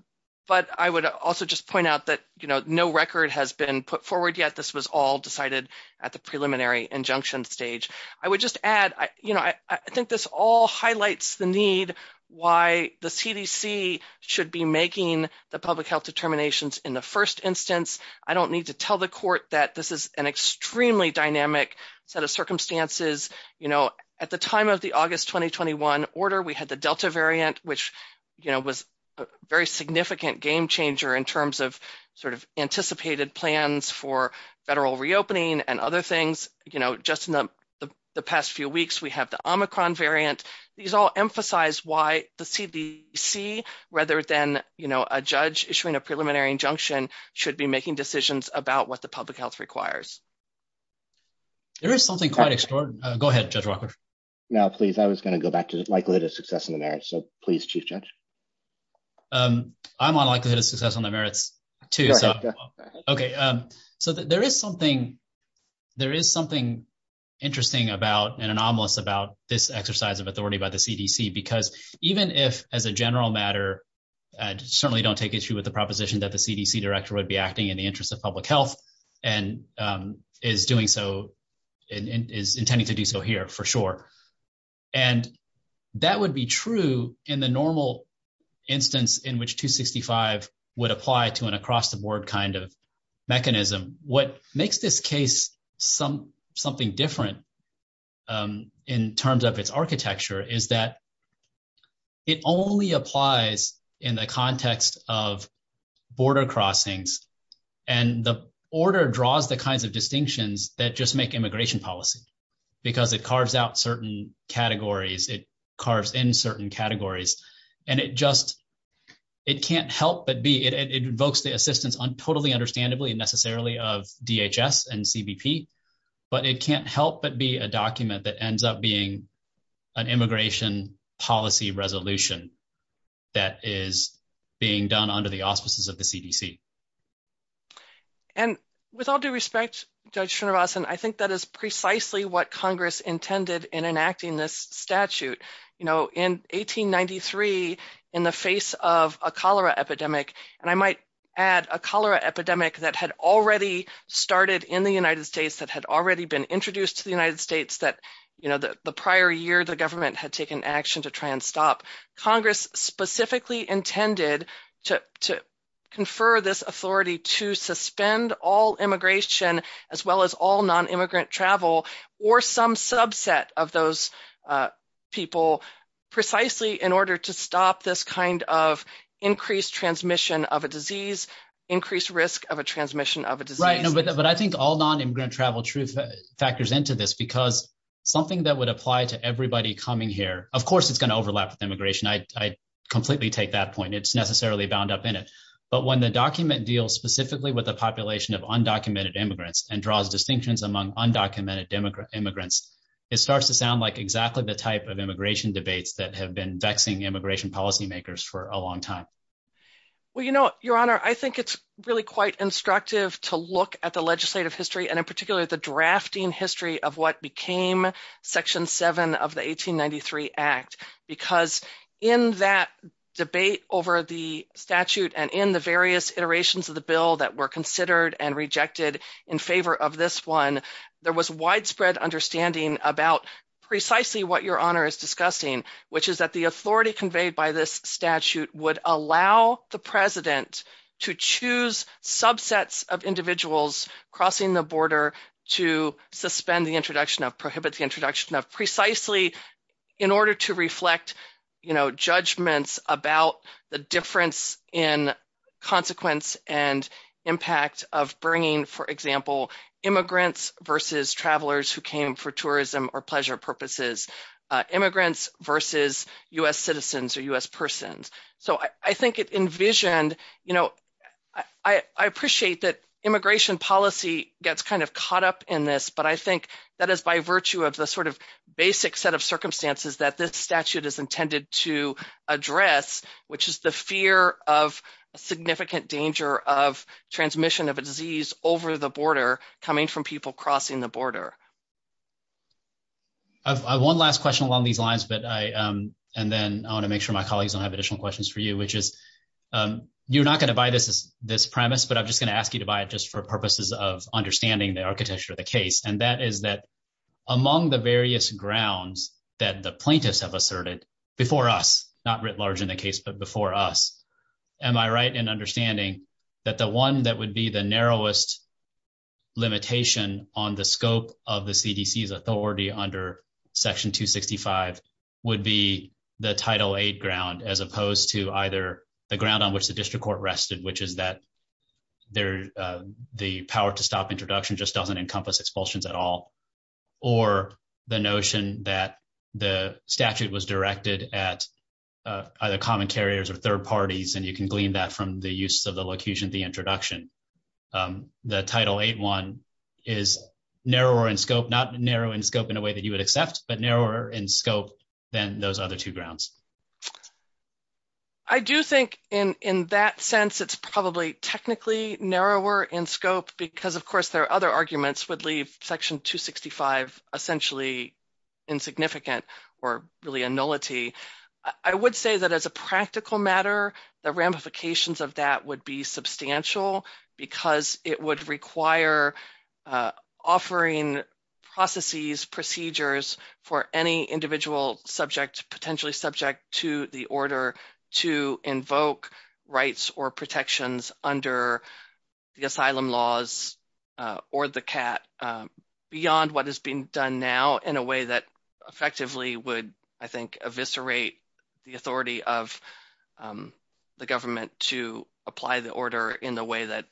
but I would also just point out that, you know, no record has been put forward yet. This was all decided at the preliminary injunction stage. I would just add, you know, I think this all highlights the need why the CDC should be making the public health determinations in the first instance. I don't need to tell the court that this is an extremely dynamic set of circumstances. You know, at the time of the August 2021 order, we had the Delta variant, which, you know, was a very significant game changer in terms of sort of anticipated plans for federal reopening and other things. You know, just in the past few weeks, we have the Omicron variant. These all emphasize why the CDC, rather than, you know, a judge issuing a preliminary injunction, should be making decisions about what the public health requires. There is something quite extraordinary. Go ahead, Judge Walker. No, please. I was going to go back to the likelihood of success in the merits. So, please, Chief Judge. I'm on likelihood of success on the merits, too. Okay. So, there is something interesting about and anomalous about this exercise of authority by the CDC, because even if, as a general matter, I certainly don't take issue with the proposition that the CDC director would be acting in the interest of public health and is doing so, is intending to do so here, for sure. And that would be true in the normal instance in which 265 would apply to an across-the-board kind of mechanism. What makes this case something different in terms of its architecture is that it only applies in the context of border crossings, and the order draws the kinds of distinctions that just make immigration policy, because it carves out certain categories. It carves in certain categories, and it just – it can't help but be – it invokes the assistance, totally understandably and necessarily, of DHS and CBP, but it can't help but be a document that ends up being an immigration policy resolution that is being done under the auspices of the CDC. And with all due respect, Judge Srinivasan, I think that is precisely what Congress intended in enacting this statute. In 1893, in the face of a cholera epidemic, and I might add a cholera epidemic that had already started in the United States, that had already been introduced to the United States, that the prior year the government had taken action to try and stop, Congress specifically intended to confer this authority to suspend all immigration, as well as all nonimmigrant travel, or some subset of those people, precisely in order to stop this kind of increased transmission of a disease, increased risk of a transmission of a disease. Right, but I think all nonimmigrant travel factors into this, because something that would apply to everybody coming here – of course, it's going to overlap with immigration. I completely take that point. It's necessarily bound up in it. But when the document deals specifically with a population of undocumented immigrants and draws distinctions among undocumented immigrants, it starts to sound like exactly the type of immigration debates that have been vexing immigration policymakers for a long time. Well, you know, Your Honor, I think it's really quite instructive to look at the legislative history, and in particular, the drafting history of what became Section 7 of the 1893 Act, because in that debate over the statute and in the various iterations of the bill that were considered and rejected in favor of this one, there was widespread understanding about precisely what Your Honor is discussing, which is that the authority conveyed by this statute would allow the President to choose subsets of individuals crossing the border to suspend the introduction of, prohibit the introduction of, precisely in order to reflect judgments about the difference in consequence and impact of bringing, for example, immigrants versus travelers who came for tourism or pleasure purposes, immigrants versus U.S. citizens or U.S. persons. So I think it envisioned – you know, I appreciate that immigration policy gets kind of caught up in this, but I think that is by virtue of the sort of basic set of circumstances that this statute is intended to address, which is the fear of significant danger of transmission of a disease over the border coming from people crossing the border. One last question along these lines, and then I want to make sure my colleagues don't have additional questions for you, which is, you're not going to buy this premise, but I'm just going to ask you to buy it just for purposes of understanding the architecture of the case, and that is that among the various grounds that the plaintiffs have asserted before us, not writ large in the case, but before us, am I right in understanding that the one that would be the narrowest limitation on the scope of the CDC's authority under Section 265 would be the Title VIII ground as opposed to either the ground on which the district court rested, which is that the power-to-stop introduction just doesn't encompass expulsions at all, or the notion that the statute was directed at either common carriers or third parties, and you can glean that from the use of the locution of the introduction. The Title VIII one is narrower in scope, not narrow in scope in a way that you would accept, but narrower in scope than those other two grounds. I do think in that sense it's probably technically narrower in scope because, of course, there are other arguments that would leave Section 265 essentially insignificant or really a nullity. I would say that as a practical matter, the ramifications of that would be substantial because it would require offering processes, procedures for any individual subject, potentially subject to the order, to invoke rights or protections under the asylum laws or the CAT beyond what is being done now in a way that effectively would, I think, eviscerate the authority of the government to apply the order in the way that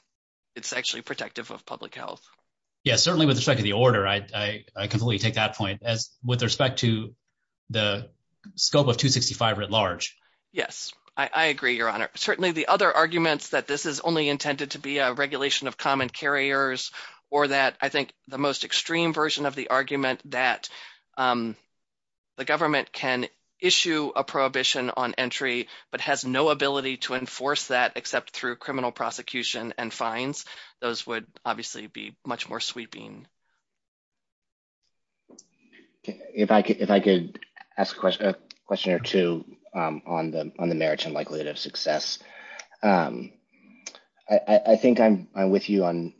it's actually protective of public health. Yes, certainly with respect to the order, I completely take that point with respect to the scope of 265 writ large. Yes, I agree, Your Honor. Certainly the other arguments that this is only intended to be a regulation of common carriers or that I think the most extreme version of the argument that the government can issue a prohibition on entry but has no ability to enforce that except through criminal prosecution and fines, those would obviously be much more sweeping. If I could ask a question or two on the merit and likelihood of success, I think I'm with you on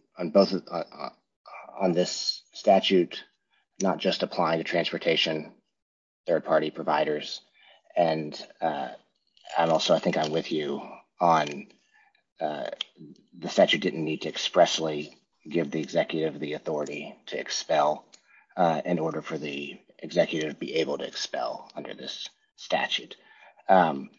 this statute not just applying to transportation, third-party providers, and also I think I'm with you on the statute didn't need to expressly give the executive the authority. To expel in order for the executive to be able to expel under this statute and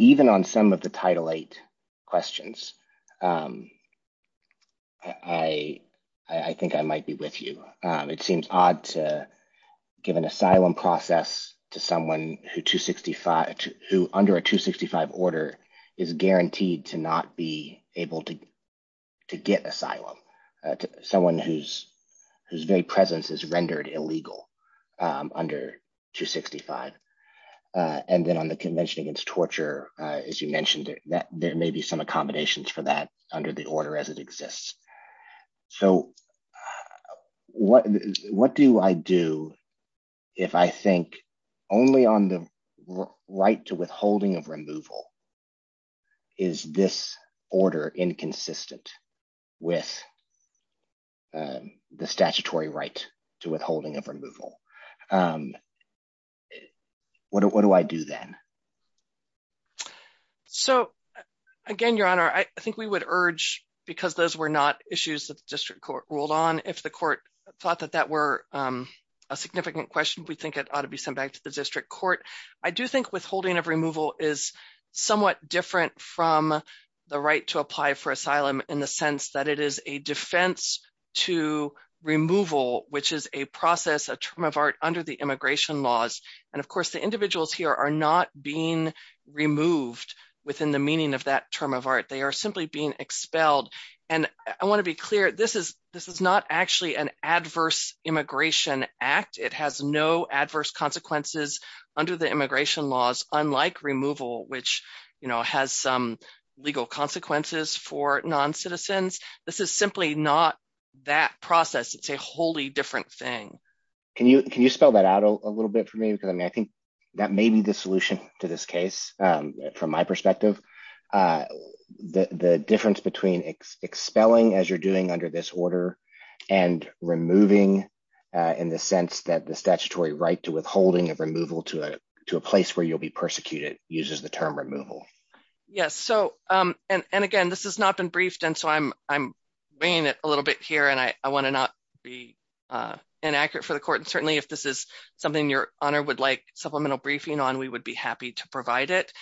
even on some of the title eight questions. I think I might be with you. It seems odd to give an asylum process to someone who under a 265 order is guaranteed to not be able to get asylum, someone whose very presence is rendered illegal under 265. And then on the Convention Against Torture, as you mentioned, there may be some accommodations for that under the order as it exists. So what do I do if I think only on the right to withholding of removal is this order inconsistent with the statutory right to withholding of removal? What do I do then? So, again, Your Honor, I think we would urge, because those were not issues that the district court ruled on, if the court thought that that were a significant question, we think it ought to be sent back to the district court. I do think withholding of removal is somewhat different from the right to apply for asylum in the sense that it is a defense to removal, which is a process, a term of art under the immigration laws. And, of course, the individuals here are not being removed within the meaning of that term of art. They are simply being expelled. And I want to be clear, this is not actually an adverse immigration act. It has no adverse consequences under the immigration laws, unlike removal, which has some legal consequences for non-citizens. This is simply not that process. It's a wholly different thing. Can you spell that out a little bit for me? I think that may be the solution to this case from my perspective. The difference between expelling, as you're doing under this order, and removing in the sense that the statutory right to withholding of removal to a place where you'll be persecuted uses the term removal. Yes, so, and again, this has not been briefed, and so I'm bringing it a little bit here, and I want to not be inaccurate for the court. And certainly if this is something your honor would like supplemental briefing on, we would be happy to provide it.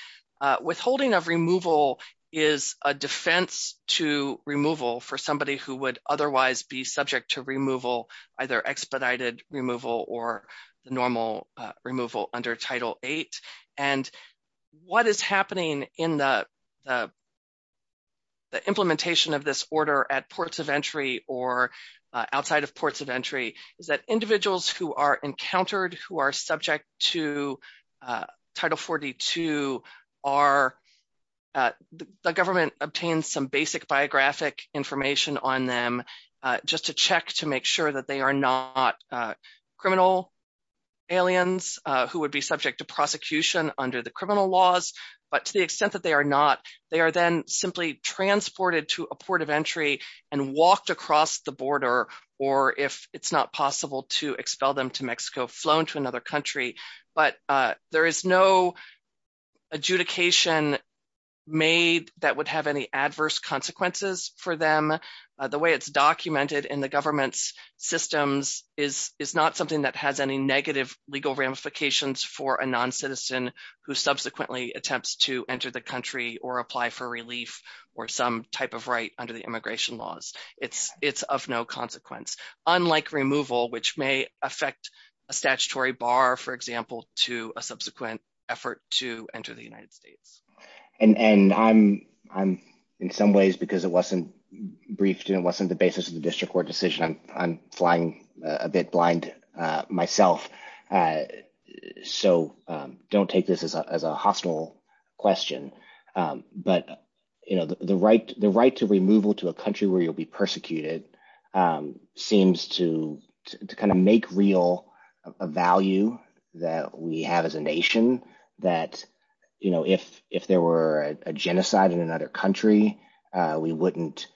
Withholding of removal is a defense to removal for somebody who would otherwise be subject to removal, either expedited removal or normal removal under Title VIII. And what is happening in the The government obtains some basic biographic information on them, just to check to make sure that they are not criminal aliens who would be subject to prosecution under the criminal laws. But to the extent that they are not, they are then simply transported to a port of entry and walked across the border, or if it's not possible to expel them to Mexico, flown to another country. But there is no adjudication made that would have any adverse consequences for them. The way it's documented in the government's systems is not something that has any negative legal ramifications for a non-citizen who subsequently attempts to enter the country or apply for relief or some type of right under the immigration laws. It's of no consequence, unlike removal, which may affect a statutory bar, for example, to a subsequent effort to enter the United States. And I'm, in some ways, because it wasn't briefed and it wasn't the basis of the district court decision, I'm flying a bit blind myself. So don't take this as a hostile question, but the right to removal to a country where you'll be persecuted seems to kind of make real a value that we have as a nation. So imagine that, you know, if there were a genocide in another country, we wouldn't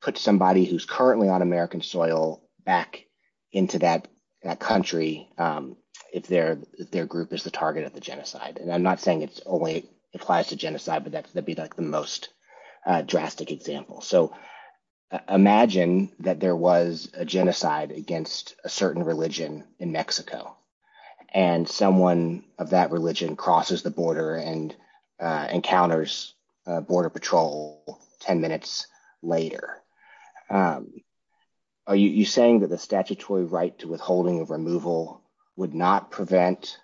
put somebody who's currently on American soil back into that country if their group is the target of the genocide. And I'm not saying it only applies to genocide, but that would be like the most drastic example. So imagine that there was a genocide against a certain religion in Mexico and someone of that religion crosses the border and encounters Border Patrol 10 minutes later. Are you saying that the statutory right to withholding removal would not prevent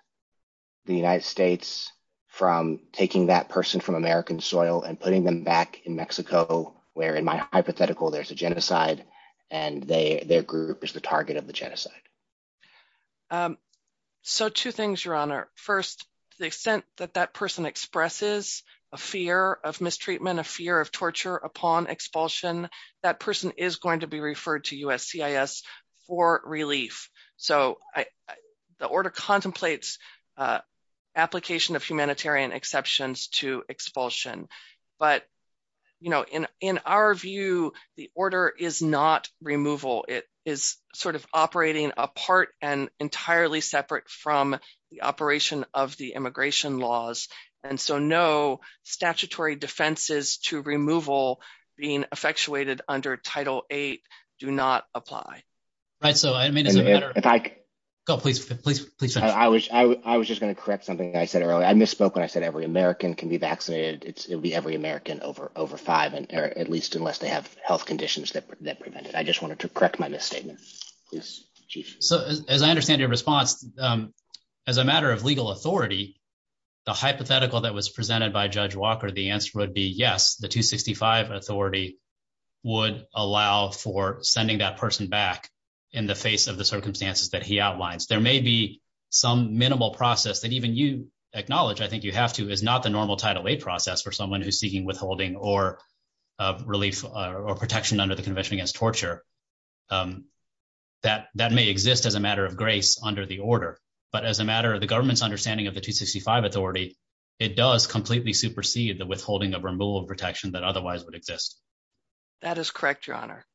the United States from taking that person from American soil and putting them back in Mexico where, in my hypothetical, there's a genocide and their group is the target of the genocide? So two things, Your Honor. First, to the extent that that person expresses a fear of mistreatment, a fear of torture upon expulsion, that person is going to be referred to USCIS for relief. So the order contemplates application of humanitarian exceptions to expulsion. But, you know, in our view, the order is not removal. It is sort of operating apart and entirely separate from the operation of the immigration laws. And so no statutory defenses to removal being effectuated under Title VIII do not apply. I was just going to correct something I said earlier. I misspoke when I said every American can be vaccinated. It would be every American over five, at least unless they have health conditions that prevent it. I just wanted to correct my misstatement. So, as I understand your response, as a matter of legal authority, the hypothetical that was presented by Judge Walker, the answer would be yes, the 265 authority would allow for sending that person back in the face of the circumstances that he outlines. There may be some minimal process that even you acknowledge, I think you have to, is not the normal Title VIII process for someone who's seeking withholding or relief or protection under the Convention Against Torture. That may exist as a matter of grace under the order, but as a matter of the government's understanding of the 265 authority, it does completely supersede the withholding of removal protection that otherwise would exist. That is correct, Your Honor.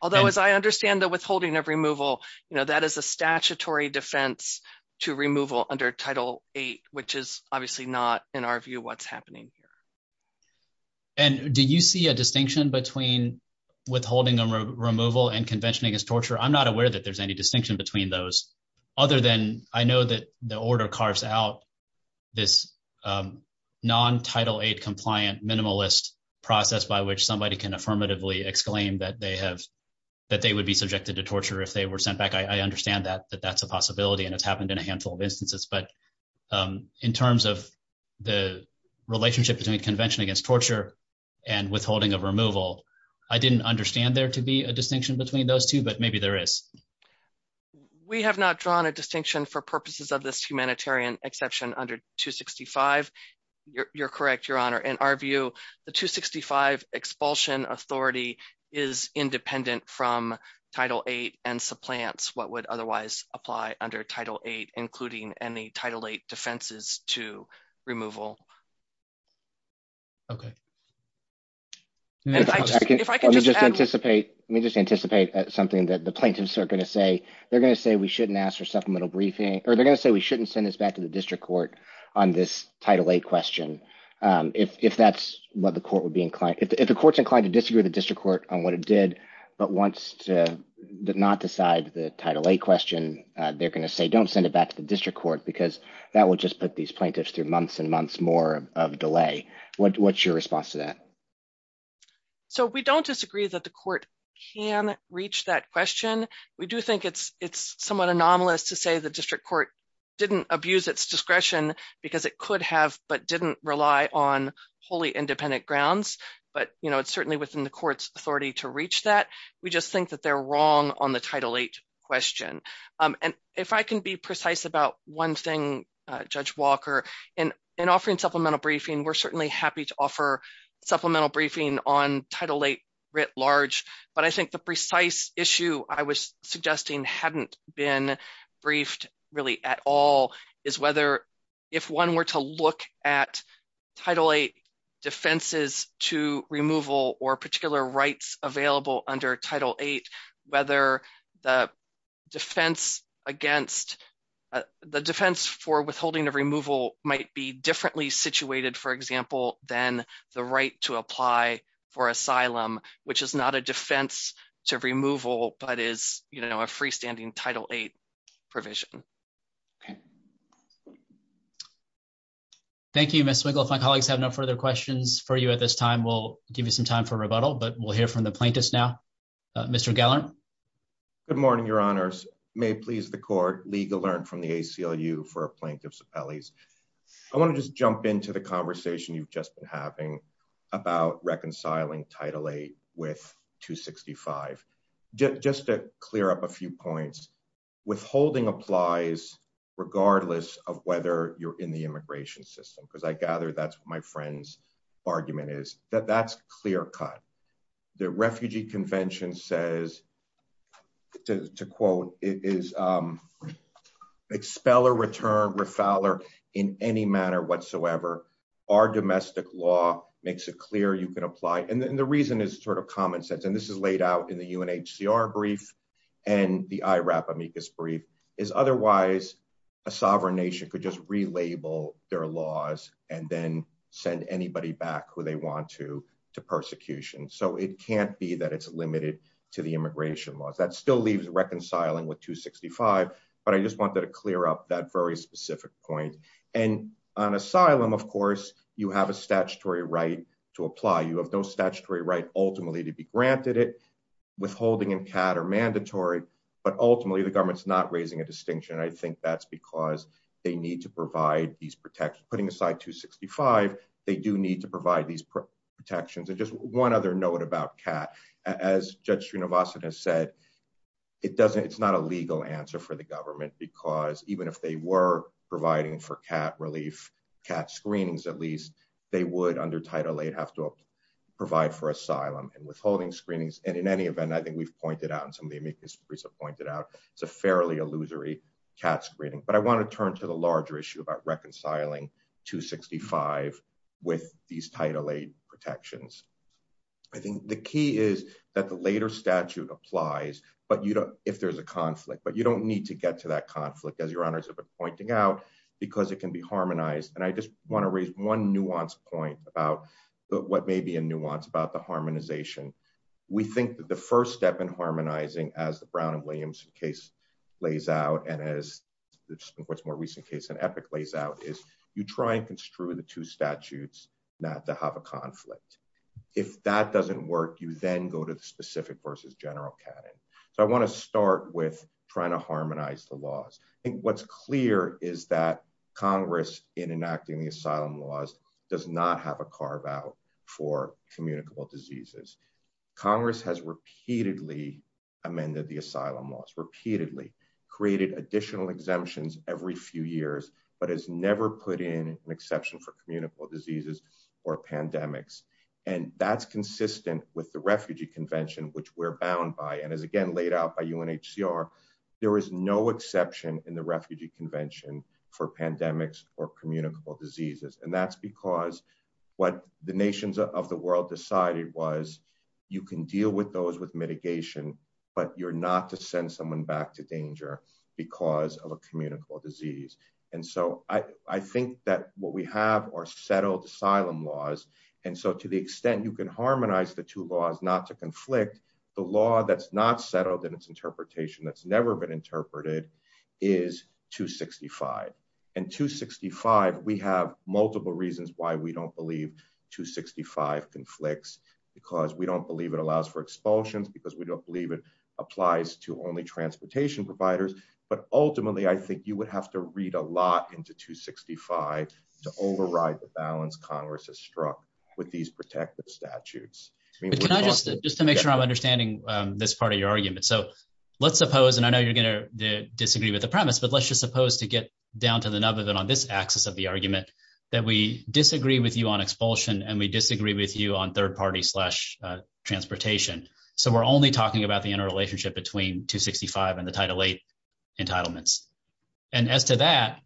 Although, as I understand the withholding of removal, that is a statutory defense to removal under Title VIII, which is obviously not, in our view, what's happening here. And do you see a distinction between withholding removal and Convention Against Torture? I'm not aware that there's any distinction between those, other than I know that the order carves out this non-Title VIII compliant minimalist process by which somebody can affirmatively exclaim that they would be subjected to torture if they were sent back. I understand that that's a possibility and it's happened in a handful of instances, but in terms of the relationship between Convention Against Torture and withholding of removal, I didn't understand there to be a distinction between those two, but maybe there is. We have not drawn a distinction for purposes of this humanitarian exception under 265. You're correct, Your Honor. In our view, the 265 expulsion authority is independent from Title VIII and supplants what would otherwise apply under Title VIII, including any Title VIII defenses to removal. Let me just anticipate something that the plaintiffs are going to say. They're going to say we shouldn't ask for supplemental briefing, or they're going to say we shouldn't send this back to the district court on this Title VIII question. If the court's inclined to disagree with the district court on what it did but did not decide the Title VIII question, they're going to say don't send it back to the district court because that would just put these plaintiffs through months and months more of delay. What's your response to that? We don't disagree that the court can reach that question. We do think it's somewhat anomalous to say the district court didn't abuse its discretion because it could have but didn't rely on wholly independent grounds, but it's certainly within the court's authority to reach that. We just think that they're wrong on the Title VIII question. And if I can be precise about one thing, Judge Walker, in offering supplemental briefing, we're certainly happy to offer supplemental briefing on Title VIII writ large. But I think the precise issue I was suggesting hadn't been briefed really at all is whether if one were to look at Title VIII defenses to removal or particular rights available under Title VIII, whether the defense for withholding a removal might be differently situated, for example, than the right to apply for asylum, which is not a defense to removal but is a freestanding Title VIII provision. Thank you, Ms. Winkle. If my colleagues have no further questions for you at this time, we'll give you some time for rebuttal, but we'll hear from the plaintiffs now. Mr. Geller? Good morning, Your Honors. May it please the court, legal learn from the ACLU for Plaintiffs Appellees. I want to just jump into the conversation you've just been having about reconciling Title VIII with 265. Just to clear up a few points, withholding applies regardless of whether you're in the immigration system, because I gather that's what my friend's argument is, that that's clear cut. The Refugee Convention says, to quote, it is Expeller, return, refowler in any manner whatsoever. Our domestic law makes it clear you can apply. And the reason is sort of common sense, and this is laid out in the UNHCR brief and the IRAP amicus brief, is otherwise a sovereign nation could just relabel their laws and then send anybody back who they want to to persecution. So it can't be that it's limited to the immigration laws. That still leaves reconciling with 265, but I just wanted to clear up that very specific point. And on asylum, of course, you have a statutory right to apply. You have no statutory right ultimately to be granted it. Withholding and CAT are mandatory, but ultimately the government's not raising a distinction. I think that's because they need to provide these protections. Putting aside 265, they do need to provide these protections. And just one other note about CAT. As Judge Srinivasan has said, it's not a legal answer for the government, because even if they were providing for CAT relief, CAT screenings at least, they would under Title VIII have to provide these protections. I think the key is that the later statute applies if there's a conflict, but you don't need to get to that conflict, as your honors have been pointing out, because it can be harmonized. And I just want to raise one nuance point about what may be a nuance about the harmonization. We think that the first step in harmonizing, as the Brown and Williams case lays out, and as the much more recent case in Epic lays out, is you try and construe the two statutes not to have a conflict. If that doesn't work, you then go to the specific versus general CAT. So I want to start with trying to harmonize the laws. I think what's clear is that Congress, in enacting the asylum laws, does not have a carve out for communicable diseases. Congress has repeatedly amended the asylum laws, repeatedly created additional exemptions every few years, but has never put in an exception for communicable diseases or pandemics. And that's consistent with the Refugee Convention, which we're bound by, and is again laid out by UNHCR. There is no exception in the Refugee Convention for pandemics or communicable diseases. And that's because what the nations of the world decided was you can deal with those with mitigation, but you're not to send someone back to danger because of a communicable disease. And so I think that what we have are settled asylum laws. And so to the extent you can harmonize the two laws not to conflict, the law that's not settled in its interpretation, that's never been interpreted, is 265. And 265, we have multiple reasons why we don't believe 265 conflicts, because we don't believe it allows for expulsions, because we don't believe it applies to only transportation providers. But ultimately, I think you would have to read a lot into 265 to override the balance Congress has struck with these protective statutes. Just to make sure I'm understanding this part of your argument. So let's suppose, and I know you're going to disagree with the premise, but let's just suppose to get down to the nub of it on this axis of the argument that we disagree with you on expulsion and we disagree with you on third party slash transportation. So we're only talking about the interrelationship between 265 and the Title VIII entitlements. And as to that,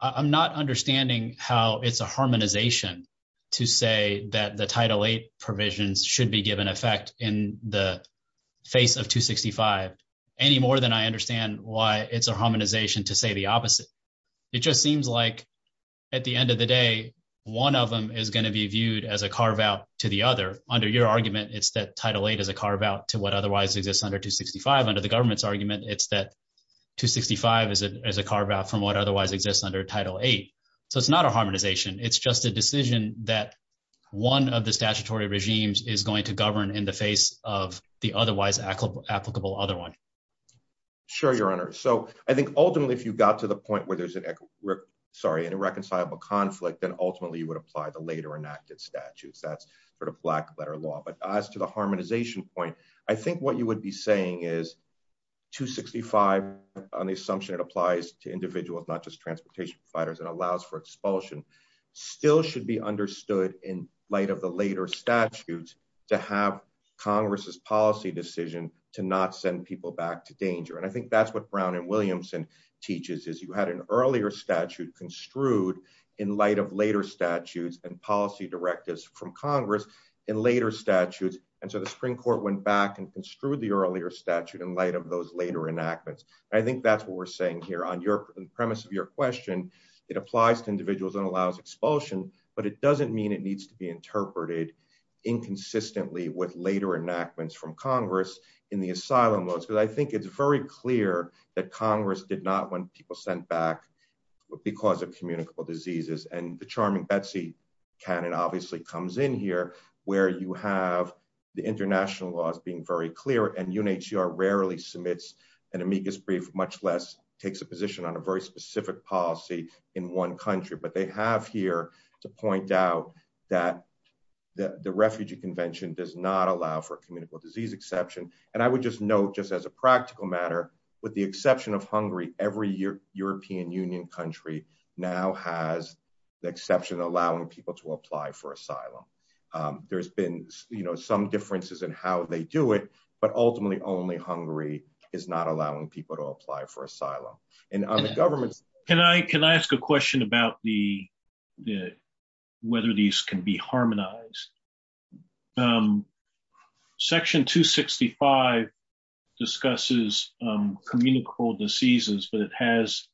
I'm not understanding how it's a harmonization to say that the Title VIII provisions should be given effect in the face of 265 any more than I understand why it's a harmonization to say the opposite. It just seems like at the end of the day, one of them is going to be viewed as a carve out to the other. Under your argument, it's that Title VIII is a carve out to what otherwise exists under 265. Under the government's argument, it's that 265 is a carve out from what otherwise exists under Title VIII. So it's not a harmonization. It's just a decision that one of the statutory regimes is going to govern in the face of the otherwise applicable other one. Sure, Your Honor. So I think ultimately, if you got to the point where there's an irreconcilable conflict, then ultimately you would apply the later enacted statutes. That's sort of black letter law. But as to the harmonization point, I think what you would be saying is 265, on the assumption it applies to individuals, not just transportation providers, and allows for expulsion, still should be understood in light of the later statutes to have Congress's policy decision to not send people back to work. To send people back to danger. And I think that's what Brown and Williamson teaches, is you had an earlier statute construed in light of later statutes and policy directives from Congress in later statutes. And so the Supreme Court went back and construed the earlier statute in light of those later enactments. And I think that's what we're saying here. On the premise of your question, it applies to individuals and allows expulsion, but it doesn't mean it needs to be interpreted inconsistently with later enactments from Congress in the asylum laws. Because I think it's very clear that Congress did not want people sent back because of communicable diseases. And the charming Betsy canon obviously comes in here, where you have the international laws being very clear. And UNHCR rarely submits an amicus brief, much less takes a position on a very specific policy in one country. But they have here to point out that the Refugee Convention does not allow for communicable disease exception. And I would just note, just as a practical matter, with the exception of Hungary, every European Union country now has the exception of allowing people to apply for asylum. There's been, you know, some differences in how they do it, but ultimately only Hungary is not allowing people to apply for asylum. Can I ask a question about whether these can be harmonized? Section 265 discusses communicable diseases, but it has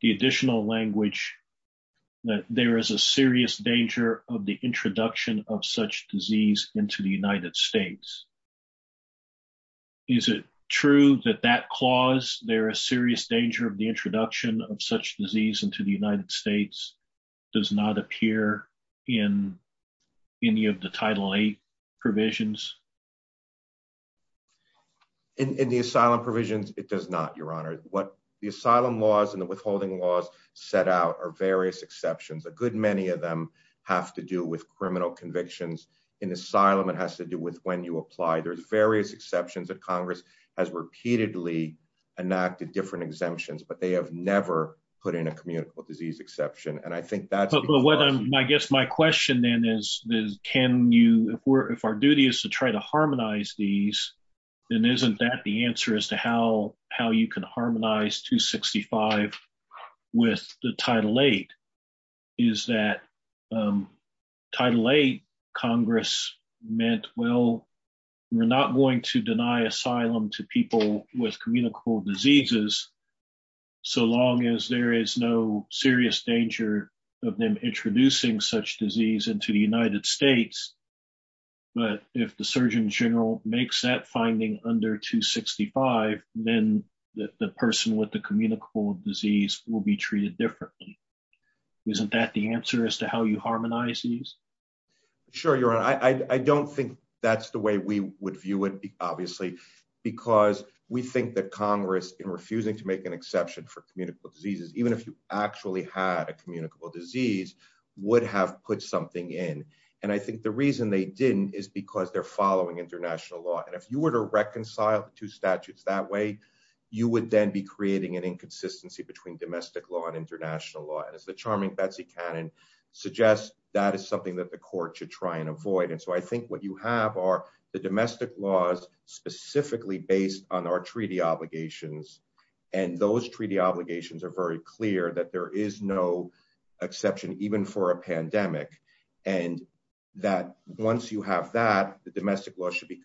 the additional language that there is a serious danger of the introduction of such disease into the United States. Is it true that that clause, there is serious danger of the introduction of such disease into the United States, does not appear in any of the Title VIII provisions? In the asylum provisions, it does not, Your Honor. What the asylum laws and the withholding laws set out are various exceptions. A good many of them have to do with criminal convictions. In asylum, it has to do with when you apply. There's various exceptions that Congress has repeatedly enacted different exemptions, but they have never put in a communicable disease exception. And I think that's I guess my question then is, can you, if our duty is to try to harmonize these, then isn't that the answer as to how you can harmonize 265 with the Title VIII? Is that Title VIII, Congress meant, well, we're not going to deny asylum to people with communicable diseases, so long as there is no serious danger of them introducing such disease into the United States. But if the Surgeon General makes that finding under 265, then the person with the communicable disease will be treated differently. Isn't that the answer as to how you harmonize these? Sure, Your Honor. I don't think that's the way we would view it, obviously, because we think that Congress, in refusing to make an exception for communicable diseases, even if you actually had a communicable disease, would have put something in. And I think the reason they didn't is because they're following international law. And if you were to reconcile the two statutes that way, you would then be creating an inconsistency between domestic law and international law. And as the charming Betsy Cannon suggests, that is something that the court should try and avoid. And so I think what you have are the domestic laws specifically based on our treaty obligations. And those treaty obligations are very clear that there is no exception, even for a pandemic, and that once you have that, the domestic law should be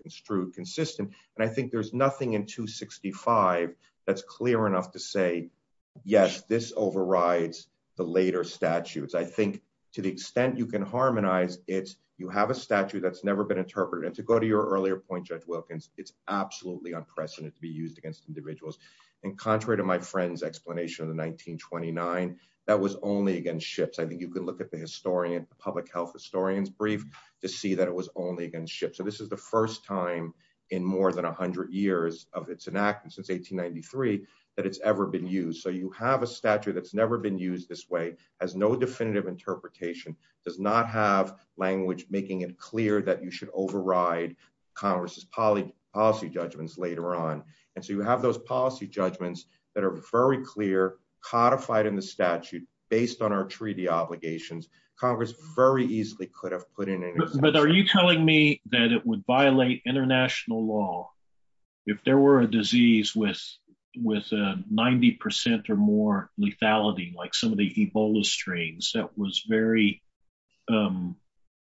consistent. And I think there's nothing in 265 that's clear enough to say, yes, this overrides the later statutes. I think to the extent you can harmonize it, you have a statute that's never been interpreted. And to go to your earlier point, Judge Wilkins, it's absolutely unprecedented to be used against individuals. And contrary to my friend's explanation of the 1929, that was only against ships. I think you could look at the public health historian's brief to see that it was only against ships. So this is the first time in more than 100 years of its enactment, since 1893, that it's ever been used. So you have a statute that's never been used this way, has no definitive interpretation, does not have language making it clear that you should override Congress's policy judgments later on. And so you have those policy judgments that are very clear, codified in the statute, based on our treaty obligations. Congress very easily could have put in an exception. But are you telling me that it would violate international law if there were a disease with 90% or more lethality, like some of the Ebola strains, that was very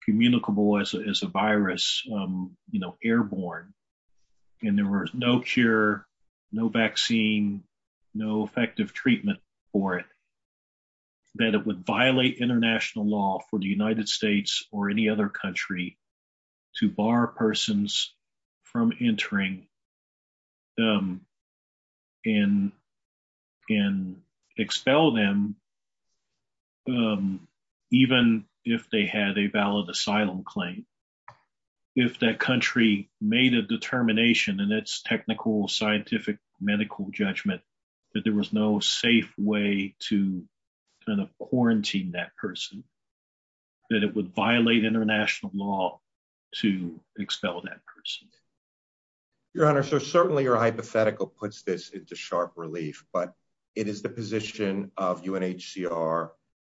communicable as a virus, airborne, and there was no cure, no vaccine, no effective treatment for it, that it would violate international law for the United States or any other country to bar persons from entering and expel them, even if they had a valid asylum claim, if that country made a determination in its technical, scientific, medical judgment that there was no safe way to kind of quarantine that person, that it would violate international law to expel that person? Your Honor, so certainly your hypothetical puts this into sharp relief, but it is the position of UNHCR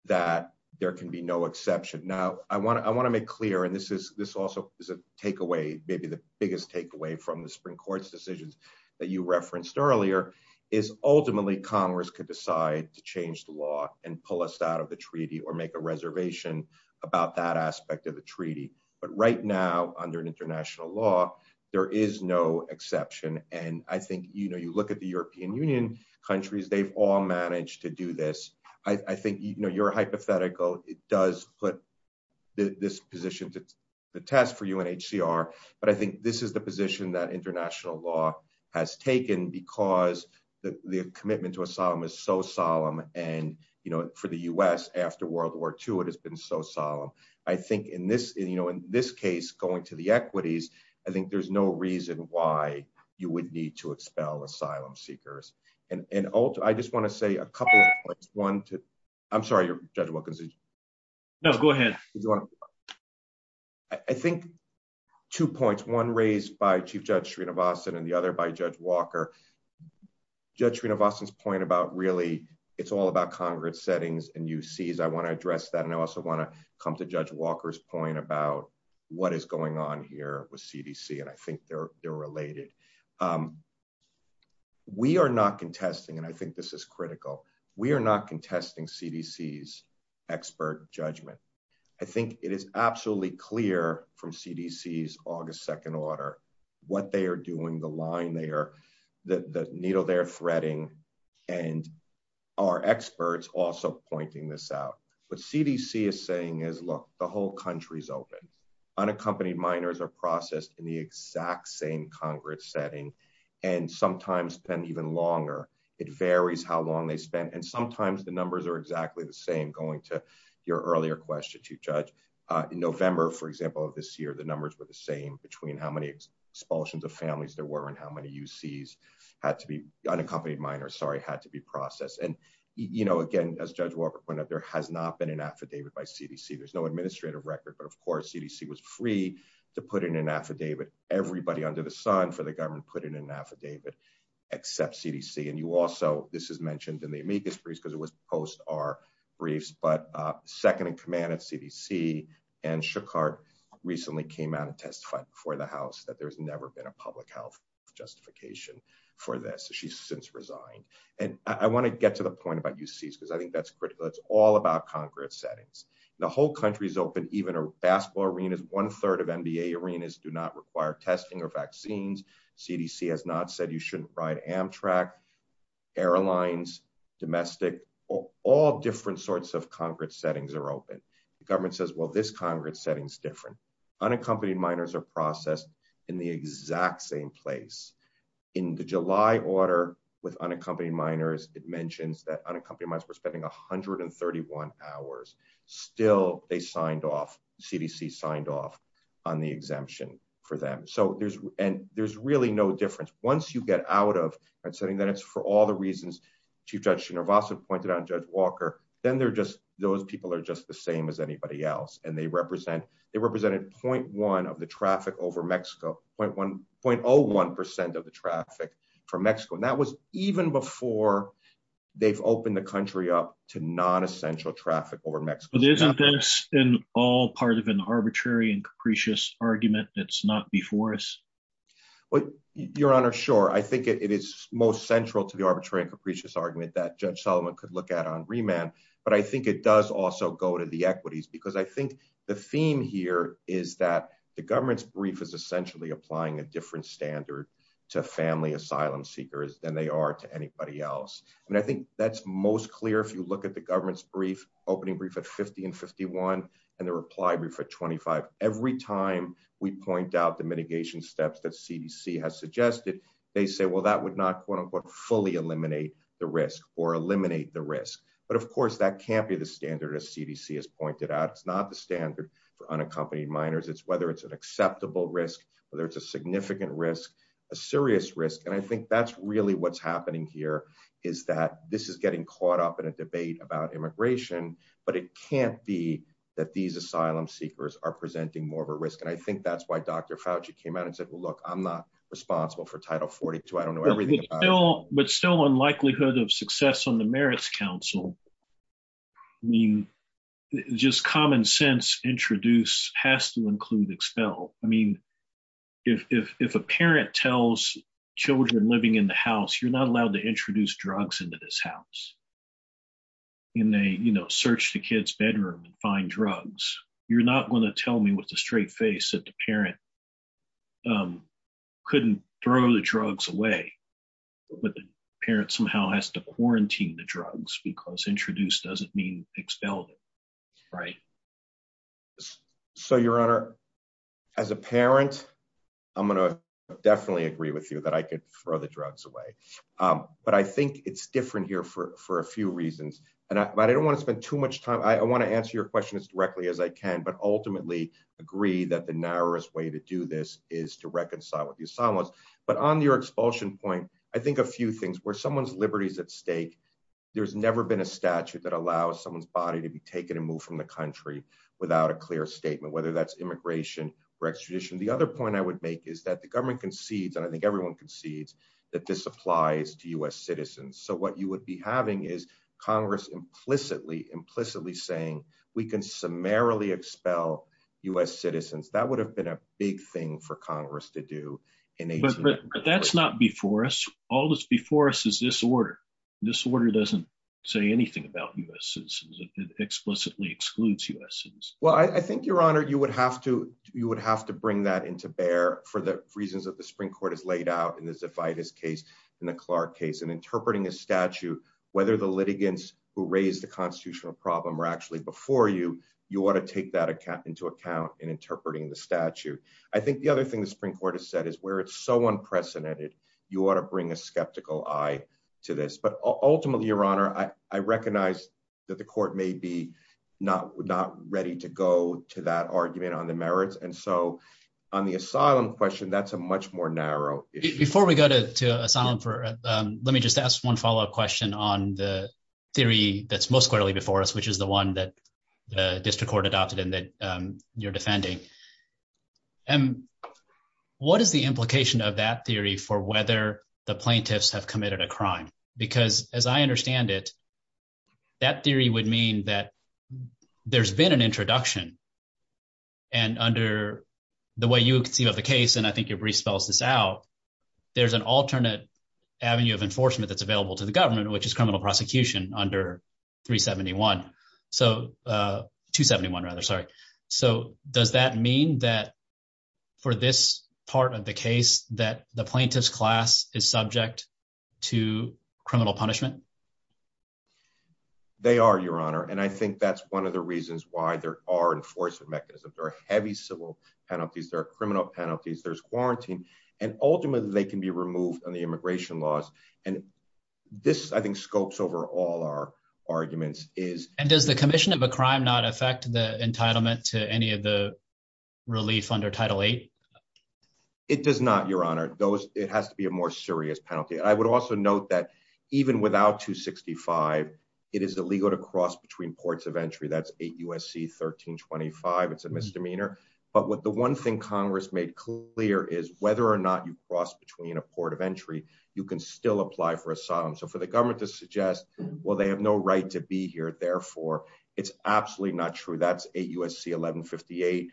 that there can be no exception. Now, I want to make clear, and this also is a takeaway, maybe the biggest takeaway from the Supreme Court's decisions that you referenced earlier, is ultimately Congress could decide to change the law and pull us out of the treaty or make a reservation about that aspect of the treaty. But right now, under international law, there is no exception. And I think, you know, you look at the European Union countries, they've all managed to do this. I think, you know, your hypothetical, it does put this position to the test for UNHCR, but I think this is the position that international law has taken because the commitment to asylum is so solemn and, you know, for the U.S. after World War II, it has been so solemn. I think in this case, going to the equities, I think there's no reason why you would need to expel asylum seekers. And I just want to say a couple of points. One, I'm sorry, Judge Wilkinson. No, go ahead. I think two points, one raised by Chief Judge Srinivasan and the other by Judge Walker. Judge Srinivasan's point about really it's all about Congress settings and UCs, I want to address that. And I also want to come to Judge Walker's point about what is going on here with CDC, and I think they're related. We are not contesting, and I think this is critical, we are not contesting CDC's expert judgment. I think it is absolutely clear from CDC's August 2nd order what they are doing, the line they are, the needle they're threading, and our experts also pointing this out. What CDC is saying is, look, the whole country is open. Unaccompanied minors are processed in the exact same Congress setting, and sometimes even longer. It varies how long they spend, and sometimes the numbers are exactly the same going to your earlier question, Chief Judge. In November, for example, of this year, the numbers were the same between how many expulsions of families there were and how many UCs had to be, unaccompanied minors, sorry, had to be processed. And, you know, again, as Judge Walker pointed out, there has not been an affidavit by CDC. There's no administrative record, but of course CDC was free to put in an affidavit. Everybody under the sun for the government put in an affidavit, except CDC. And you also, this is mentioned in the amicus briefs, because it was supposed to be our briefs, but second in command of CDC, Ann Schuchard recently came out and testified before the House that there's never been a public health justification for this. She's since resigned. And I want to get to the point about UCs, because I think that's critical. It's all about Congress settings. The whole country is open, even our basketball arenas, one third of NBA arenas do not require testing or vaccines. CDC has not said you shouldn't ride Amtrak, airlines, domestic, all different sorts of Congress settings are open. The government says, well, this Congress setting is different. Unaccompanied minors are processed in the exact same place. In the July order with unaccompanied minors, it mentions that unaccompanied minors were spending 131 hours. Still, they signed off, CDC signed off on the exemption for them. And there's really no difference. Once you get out of that setting, then it's for all the reasons Chief Judge Shinervasa pointed out, Judge Walker, then those people are just the same as anybody else. And they represented 0.1 of the traffic over Mexico, 0.01% of the traffic from Mexico. And that was even before they've opened the country up to non-essential traffic over Mexico. But isn't this all part of an arbitrary and capricious argument that's not before us? Every time we point out the mitigation steps that CDC has suggested, they say, well, that would not fully eliminate the risk or eliminate the risk. But of course, that can't be the standard as CDC has pointed out. It's not the standard for unaccompanied minors. It's whether it's an acceptable risk, whether it's a significant risk, a serious risk. And I think that's really what's happening here is that this is getting caught up in a debate about immigration, but it can't be that these asylum seekers are presenting more of a risk. And I think that's why Dr. Fauci came out and said, look, I'm not responsible for Title 42. I don't know everything about it. I think the likelihood of success on the Merits Council, I mean, just common sense introduced has to include expelled. I mean, if a parent tells children living in the house, you're not allowed to introduce drugs into this house. And they, you know, search the kid's bedroom and find drugs. You're not going to tell me with a straight face that the parent couldn't throw the drugs away. But the parent somehow has to quarantine the drugs because introduced doesn't mean expelled. Right. So, Your Honor, as a parent, I'm going to definitely agree with you that I could throw the drugs away. But I think it's different here for a few reasons. And I don't want to spend too much time. I want to answer your question as directly as I can. But ultimately agree that the narrowest way to do this is to reconcile with the asylums. But on your expulsion point, I think a few things where someone's liberty is at stake. There's never been a statute that allows someone's body to be taken and moved from the country without a clear statement, whether that's immigration or extradition. The other point I would make is that the government concedes, and I think everyone concedes, that this applies to US citizens. So what you would be having is Congress implicitly, implicitly saying we can summarily expel US citizens. That would have been a big thing for Congress to do. But that's not before us. All that's before us is this order. This order doesn't say anything about US citizens. It explicitly excludes US citizens. Well, I think, Your Honor, you would have to bring that into bear for the reasons that the Supreme Court has laid out in the Zavidas case, in the Clark case, and interpreting a statute. Whether the litigants who raised the constitutional problem were actually before you, you want to take that into account in interpreting the statute. I think the other thing the Supreme Court has said is where it's so unprecedented, you ought to bring a skeptical eye to this. But ultimately, Your Honor, I recognize that the court may be not ready to go to that argument on the merits, and so on the asylum question, that's a much more narrow issue. Before we go to asylum, let me just ask one follow-up question on the theory that's most clearly before us, which is the one that the district court adopted and that you're defending. What is the implication of that theory for whether the plaintiffs have committed a crime? Because as I understand it, that theory would mean that there's been an introduction. And under the way you see the case, and I think your brief spells this out, there's an alternate avenue of enforcement that's available to the government, which is criminal prosecution under 371 – 271 rather, sorry. So does that mean that for this part of the case that the plaintiff's class is subject to criminal punishment? They are, Your Honor, and I think that's one of the reasons why there are enforcement mechanisms. There are heavy civil penalties, there are criminal penalties, there's quarantine, and ultimately they can be removed under immigration laws. And this, I think, scopes over all our arguments. And does the commission of a crime not affect the entitlement to any of the relief under Title VIII? It does not, Your Honor. It has to be a more serious penalty. I would also note that even without 265, it is illegal to cross between ports of entry. That's 8 U.S.C. 1325. It's a misdemeanor. But the one thing Congress made clear is whether or not you cross between a port of entry, you can still apply for asylum. So for the government to suggest, well, they have no right to be here, therefore, it's absolutely not true. That's 8 U.S.C. 1158.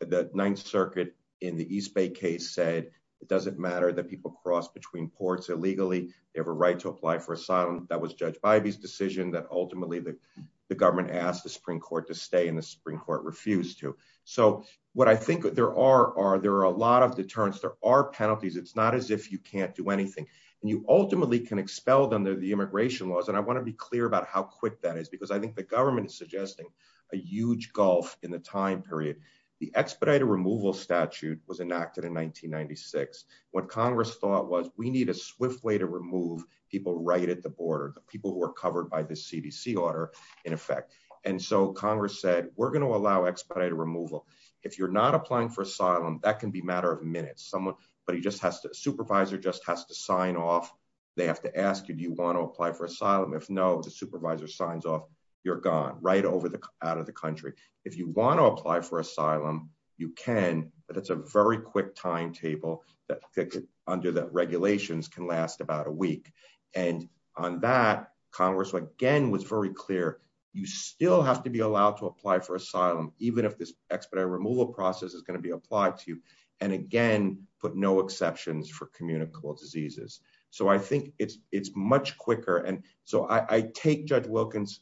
The Ninth Circuit in the East Bay case said it doesn't matter that people cross between ports illegally. They have a right to apply for asylum. That was Judge Bybee's decision that ultimately the government asked the Supreme Court to stay and the Supreme Court refused to. So what I think there are are there are a lot of deterrents. There are penalties. It's not as if you can't do anything. And you ultimately can expel them, the immigration laws. And I want to be clear about how quick that is, because I think the government is suggesting a huge gulf in the time period. The expedited removal statute was enacted in 1996. What Congress thought was we need a swift way to remove people right at the border, people who are covered by the CDC order, in effect. And so Congress said, we're going to allow expedited removal. If you're not applying for asylum, that can be a matter of minutes. A supervisor just has to sign off. They have to ask you, do you want to apply for asylum? If no, the supervisor signs off, you're gone, right out of the country. If you want to apply for asylum, you can, but it's a very quick timetable that under the regulations can last about a week. And on that, Congress, again, was very clear. You still have to be allowed to apply for asylum, even if this expedited removal process is going to be applied to you. And again, but no exceptions for communicable diseases. So I think it's much quicker. And so I take Judge Wilkins'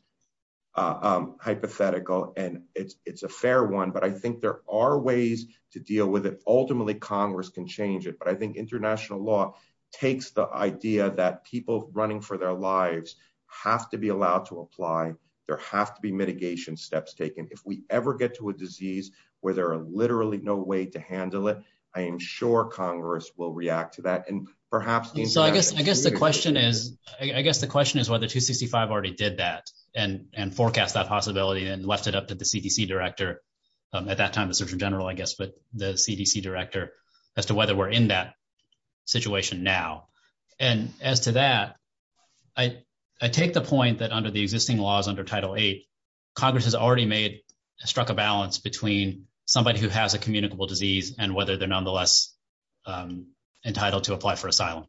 hypothetical, and it's a fair one, but I think there are ways to deal with it. Ultimately, Congress can change it. But I think international law takes the idea that people running for their lives have to be allowed to apply. There have to be mitigation steps taken. If we ever get to a disease where there are literally no way to handle it, I am sure Congress will react to that. I guess the question is whether 265 already did that and forecast that possibility and left it up to the CDC director, at that time the Surgeon General, I guess, but the CDC director, as to whether we're in that situation now. And as to that, I take the point that under the existing laws under Title VIII, Congress has already struck a balance between somebody who has a communicable disease and whether they're nonetheless entitled to apply for asylum.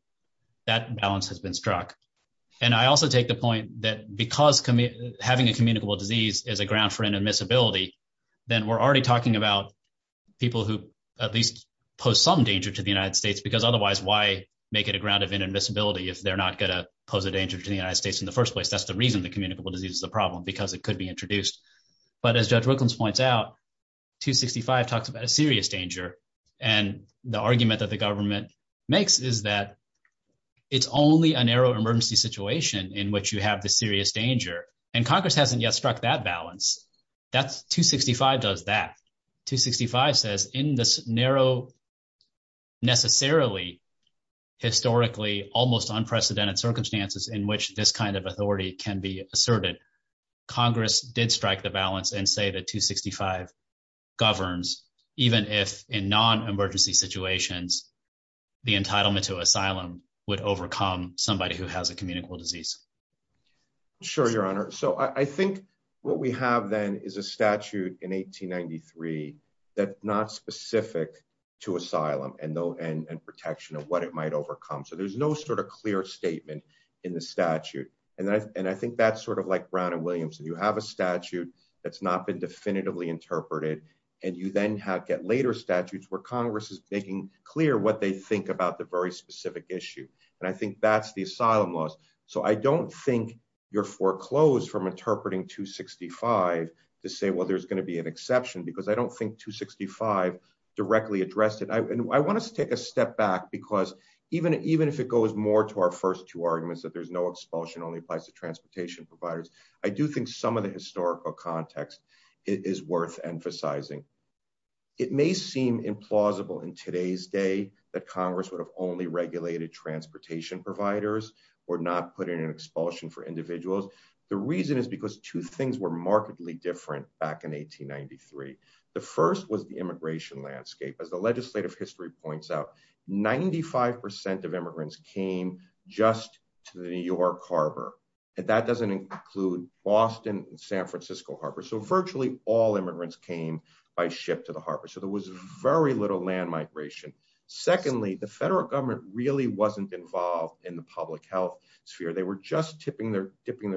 That balance has been struck. And I also take the point that because having a communicable disease is a ground for inadmissibility, then we're already talking about people who at least pose some danger to the United States, because otherwise, why make it a ground of inadmissibility if they're not going to pose a danger to the United States in the first place? I guess that's the reason the communicable disease is a problem, because it could be introduced. But as Jeff Wilkins points out, 265 talks about serious danger. And the argument that the government makes is that it's only a narrow emergency situation in which you have the serious danger. And Congress hasn't yet struck that balance. 265 does that. 265 says in this narrow, necessarily, historically, almost unprecedented circumstances in which this kind of authority can be asserted, Congress did strike the balance and say that 265 governs, even if in non-emergency situations, the entitlement to asylum would overcome somebody who has a communicable disease. Sure, Your Honor. So I think what we have then is a statute in 1893 that's not specific to asylum and protection of what it might overcome. So there's no sort of clear statement in the statute. And I think that's sort of like Brown and Williamson. You have a statute that's not been definitively interpreted. And you then get later statutes where Congress is making clear what they think about the very specific issue. And I think that's the asylum laws. So I don't think you're foreclosed from interpreting 265 to say, well, there's going to be an exception, because I don't think 265 directly addressed it. I want to take a step back, because even if it goes more to our first two arguments, that there's no expulsion, only applies to transportation providers, I do think some of the historical context is worth emphasizing. It may seem implausible in today's day that Congress would have only regulated transportation providers or not put in an expulsion for individuals. The reason is because two things were markedly different back in 1893. The first was the immigration landscape. As the legislative history points out, 95% of immigrants came just to the New York Harbor. And that doesn't include Boston and San Francisco Harbor. So virtually all immigrants came by ship to the harbor. So there was very little land migration. Secondly, the federal government really wasn't involved in the public health sphere. They were just tipping their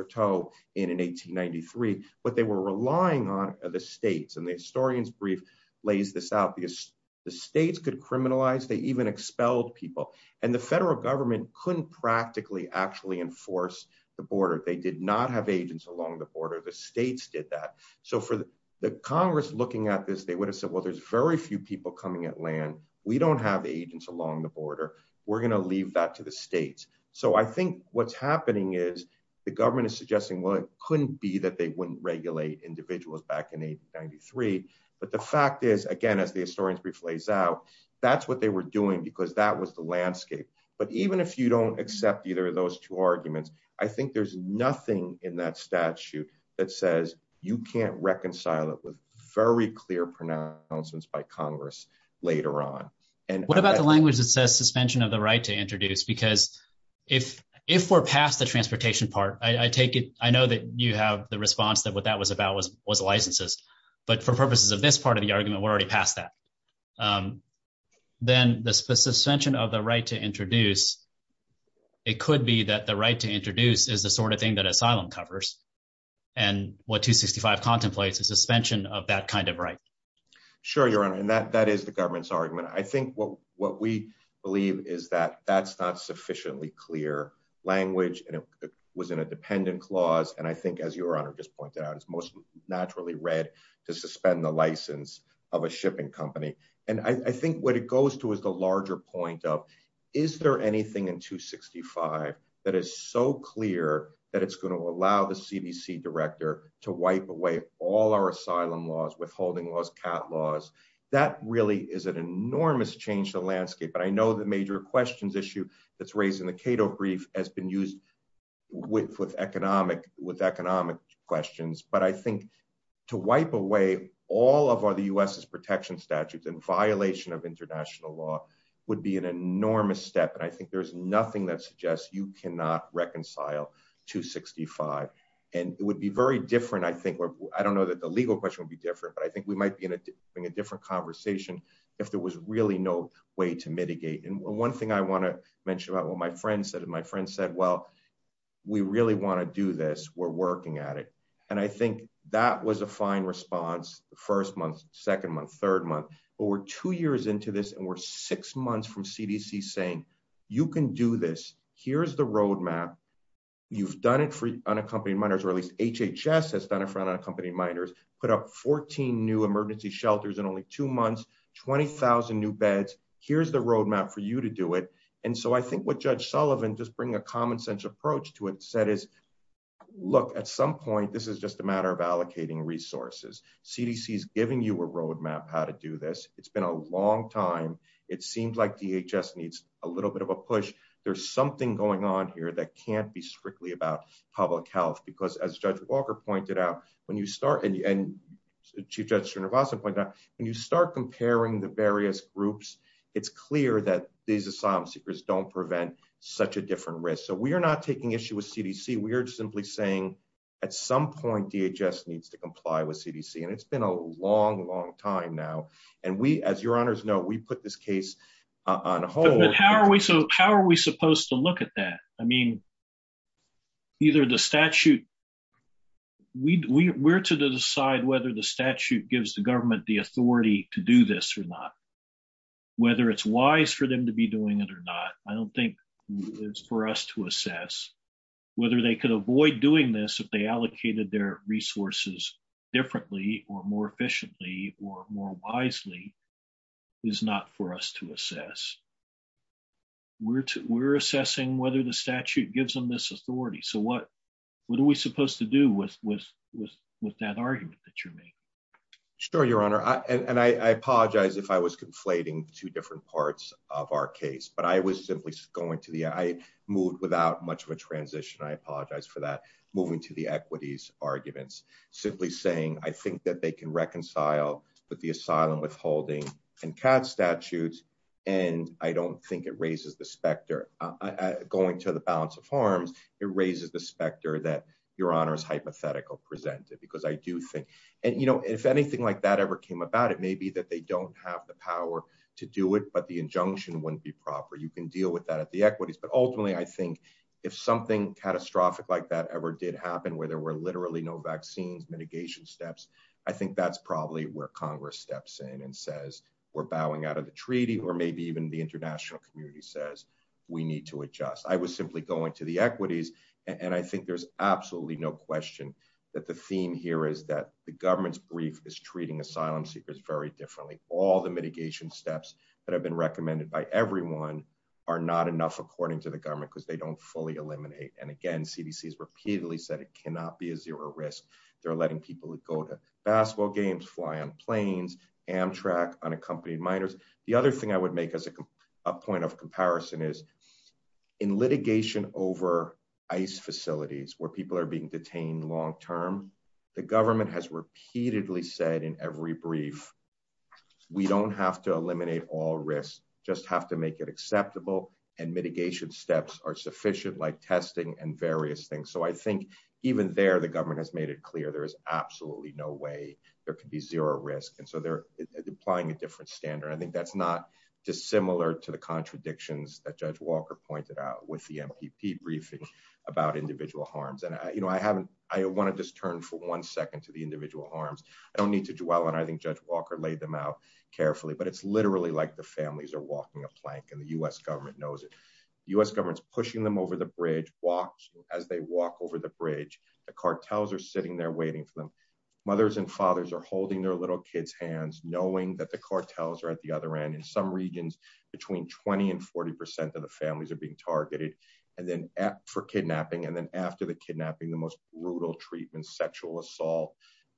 toe in 1893, but they were relying on the states. And the historian's brief lays this out, because the states could criminalize, they even expel people. And the federal government couldn't practically actually enforce the border. They did not have agents along the border. The states did that. So for the Congress looking at this, they would have said, well, there's very few people coming at land. We don't have agents along the border. We're going to leave that to the states. So I think what's happening is the government is suggesting, well, it couldn't be that they wouldn't regulate individuals back in 1893. But the fact is, again, as the historian's brief lays out, that's what they were doing, because that was the landscape. But even if you don't accept either of those two arguments, I think there's nothing in that statute that says you can't reconcile it with very clear pronouncements by Congress later on. What about the language that says suspension of the right to introduce? Because if we're past the transportation part, I take it – I know that you have the response that what that was about was licenses. But for purposes of this part of the argument, we're already past that. Then the suspension of the right to introduce, it could be that the right to introduce is the sort of thing that asylum covers, and what 265 contemplates is suspension of that kind of right. Sure, Your Honor, and that is the government's argument. I think what we believe is that that's not sufficiently clear language, and it was in a dependent clause. And I think, as Your Honor just pointed out, it's most naturally read to suspend the license of a shipping company. And I think what it goes to is the larger point of, is there anything in 265 that is so clear that it's going to allow the CDC director to wipe away all our asylum laws, withholding laws, cat laws? That really is an enormous change to the landscape, but I know the major questions issue that's raised in the Cato brief has been used with economic questions. But I think to wipe away all of the U.S.'s protection statutes in violation of international law would be an enormous step, and I think there's nothing that suggests you cannot reconcile 265. And it would be very different, I think, I don't know that the legal question would be different, but I think we might be in a different conversation if there was really no way to mitigate. And one thing I want to mention about what my friend said, my friend said, well, we really want to do this, we're working at it. And I think that was a fine response the first month, second month, third month, but we're two years into this and we're six months from CDC saying, you can do this. Here's the roadmap. You've done it for unaccompanied minors, or at least HHS has done it for unaccompanied minors, put up 14 new emergency shelters in only two months, 20,000 new beds, here's the roadmap for you to do it. And so I think what Judge Sullivan, just bringing a common sense approach to it, said is, look, at some point, this is just a matter of allocating resources. CDC is giving you a roadmap how to do this. It's been a long time. It seems like DHS needs a little bit of a push. There's something going on here that can't be strictly about public health. Because as Judge Walker pointed out, when you start, and Chief Judge Srinivasan pointed out, when you start comparing the various groups, it's clear that these asylum seekers don't prevent such a different risk. So we are not taking issue with CDC. We are simply saying, at some point, DHS needs to comply with CDC. And it's been a long, long time now. And we, as your honors know, we put this case on hold. But how are we supposed to look at that? I mean, either the statute, we're to decide whether the statute gives the government the authority to do this or not. We're assessing whether the statute gives them this authority. So what are we supposed to do with that argument that you made? Sure, your honor. And I apologize if I was conflating two different parts of our case. But I was simply going to the, I moved without much of a transition, I apologize for that, moving to the equities arguments. Simply saying, I think that they can reconcile with the asylum withholding and CATS statutes, and I don't think it raises the specter. Going to the balance of harms, it raises the specter that your honors hypothetical presented, because I do think, and you know, if anything like that ever came about, it may be that they don't have the power to do it, but the injunction wouldn't be proper. You can deal with that at the equities. But ultimately, I think if something catastrophic like that ever did happen, where there were literally no vaccine mitigation steps, I think that's probably where Congress steps in and says, we're bowing out of the treaty, or maybe even the international community says, we need to adjust. I was simply going to the equities. And I think there's absolutely no question that the theme here is that the government's brief is treating asylum seekers very differently. All the mitigation steps that have been recommended by everyone are not enough, according to the government, because they don't fully eliminate. And again, CDC has repeatedly said it cannot be a zero risk. They're letting people who go to basketball games, fly on planes, Amtrak, unaccompanied minors. The other thing I would make as a point of comparison is, in litigation over ICE facilities, where people are being detained long term, the government has repeatedly said in every brief, we don't have to eliminate all risks, just have to make it acceptable. And mitigation steps are sufficient, like testing and various things. So I think even there, the government has made it clear, there is absolutely no way there could be zero risk. And so they're applying a different standard. I think that's not dissimilar to the contradictions that Judge Walker pointed out with the MPP briefing about individual harms. And I want to just turn for one second to the individual harms. I don't need to dwell on it. I think Judge Walker laid them out carefully. But it's literally like the families are walking a plank, and the U.S. government knows it. The U.S. government's pushing them over the bridge, as they walk over the bridge, the cartels are sitting there waiting for them. Mothers and fathers are holding their little kids' hands, knowing that the cartels are at the other end. In some regions, between 20 and 40 percent of the families are being targeted for kidnapping. And then after the kidnapping, the most brutal treatment, sexual assault,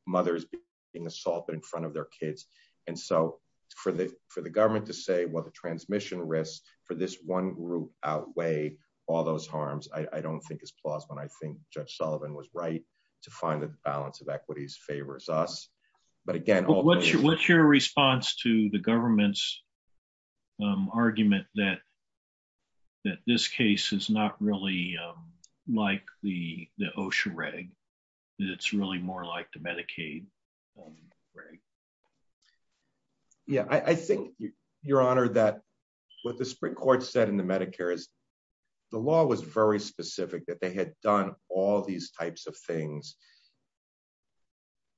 mothers being assaulted in front of their kids. And so for the government to say, well, the transmission risks for this one group outweigh all those harms, I don't think is plausible. And I think Judge Sullivan was right to find that the balance of equities favors us. But again— What's your response to the government's argument that this case is not really like the OSHA reg, that it's really more like the Medicaid reg? Yeah, I think, Your Honor, that what the Supreme Court said in the Medicare is, the law was very specific, that they had done all these types of things,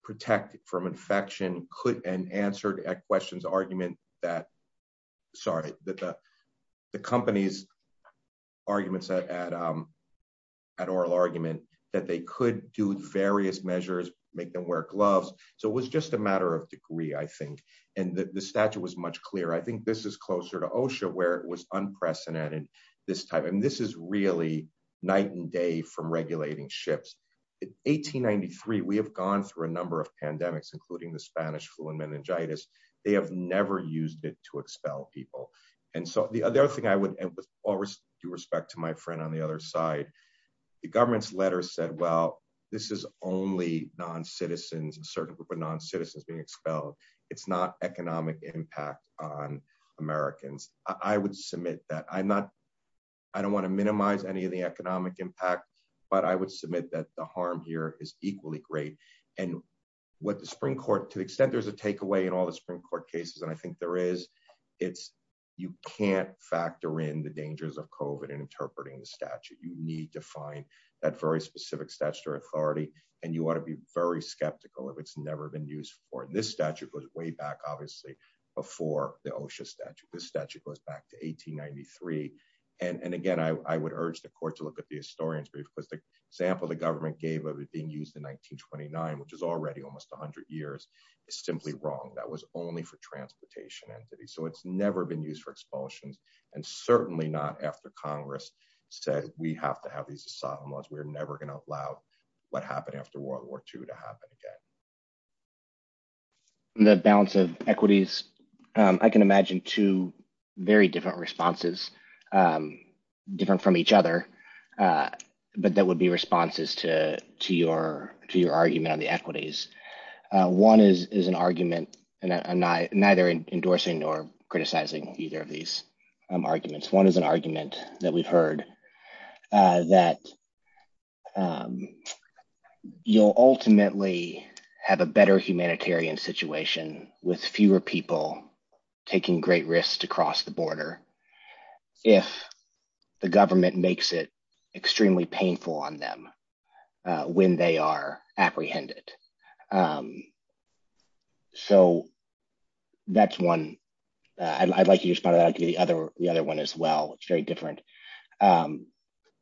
protect from infection, and answered a question's argument that—sorry, the company's arguments at oral argument—that they could do various measures, make them wear gloves. So it was just a matter of degree, I think. And the statute was much clearer. I think this is closer to OSHA, where it was unprecedented this time. And this is really night and day from regulating ships. In 1893, we have gone through a number of pandemics, including the Spanish flu and meningitis. They have never used it to expel people. And so the other thing I would—and with all due respect to my friend on the other side—the government's letter said, well, this is only non-citizens and certain group of non-citizens being expelled. It's not economic impact on Americans. I would submit that. I'm not—I don't want to minimize any of the economic impact, but I would submit that the harm here is equally great. And what the Supreme Court—to the extent there's a takeaway in all the Supreme Court cases, and I think there is, it's you can't factor in the dangers of COVID in interpreting the statute. You need to find that very specific statute or authority, and you want to be very skeptical if it's never been used before. And this statute goes way back, obviously, before the OSHA statute. This statute goes back to 1893. And again, I would urge the court to look at the historians. The balance of equities, I can imagine two very different responses, different from each other. But that would be responses to your argument on the equities. One is an argument, and I'm neither endorsing nor criticizing either of these arguments. One is an argument that we've heard that you'll ultimately have a better humanitarian situation with fewer people taking great risks to cross the border if the government makes it extremely painful on them when they are apprehended. So that's one. I'd like to respond to the other one as well. It's very different.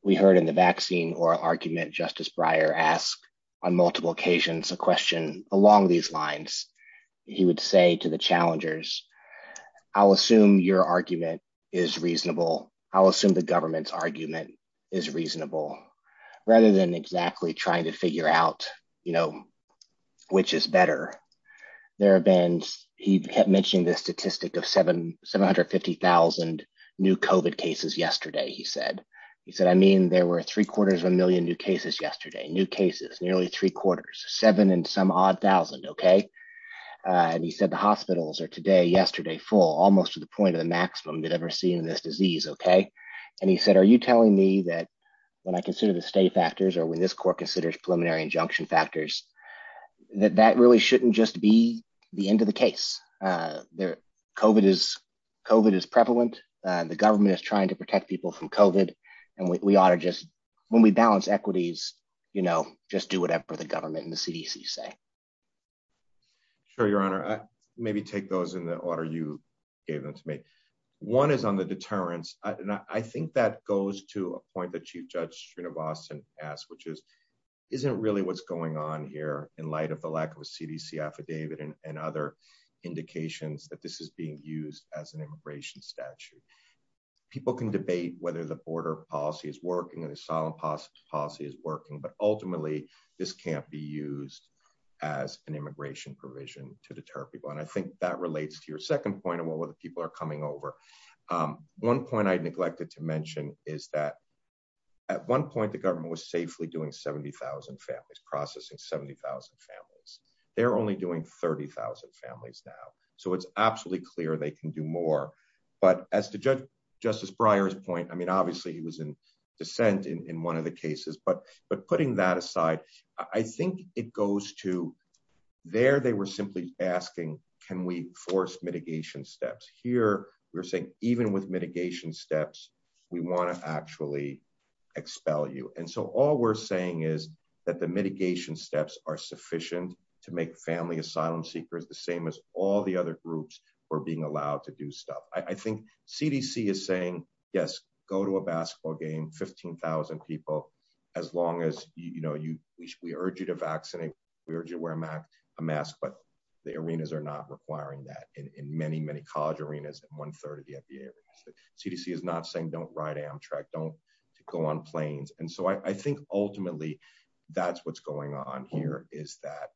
We heard in the vaccine or argument Justice Breyer asked on multiple occasions a question along these lines. He would say to the challengers, I'll assume your argument is reasonable. I'll assume the government's argument is reasonable, rather than exactly trying to figure out, you know, which is better. There have been, he mentioned the statistic of 750,000 new COVID cases yesterday, he said. He said, I mean, there were three quarters of a million new cases yesterday, new cases, nearly three quarters, seven and some odd thousand, okay? And he said, the hospitals are today, yesterday, full, almost to the point of the maximum you'd ever see in this disease, okay? And he said, are you telling me that when I consider the state factors or when this court considers preliminary injunction factors, that that really shouldn't just be the end of the case? COVID is prevalent. The government is trying to protect people from COVID. And we ought to just, when we balance equities, you know, just do whatever the government and the CDC say. Sure, Your Honor. Maybe take those in the order you gave them to me. One is on the deterrence. And I think that goes to a point that Chief Judge Srinivasan asked, which is, isn't really what's going on here in light of the lack of a CDC affidavit and other indications that this is being used as an immigration statute. People can debate whether the border policy is working and the asylum policy is working, but ultimately this can't be used as an immigration provision to deter people. And I think that relates to your second point and what other people are coming over. One point I neglected to mention is that at one point the government was safely doing 70,000 families, processing 70,000 families. They're only doing 30,000 families now. So it's absolutely clear they can do more. But as to Justice Breyer's point, I mean, obviously he was in dissent in one of the cases, but putting that aside, I think it goes to, there they were simply asking, can we force mitigation steps? Here we're saying, even with mitigation steps, we want to actually expel you. And so all we're saying is that the mitigation steps are sufficient to make family asylum seekers the same as all the other groups who are being allowed to do stuff. I think CDC is saying, yes, go to a basketball game, 15,000 people, as long as, you know, we urge you to vaccinate, we urge you to wear a mask, but the arenas are not requiring that. In many, many college arenas, one third of the FDA. CDC is not saying don't ride Amtrak, don't go on planes. And so I think ultimately that's what's going on here is that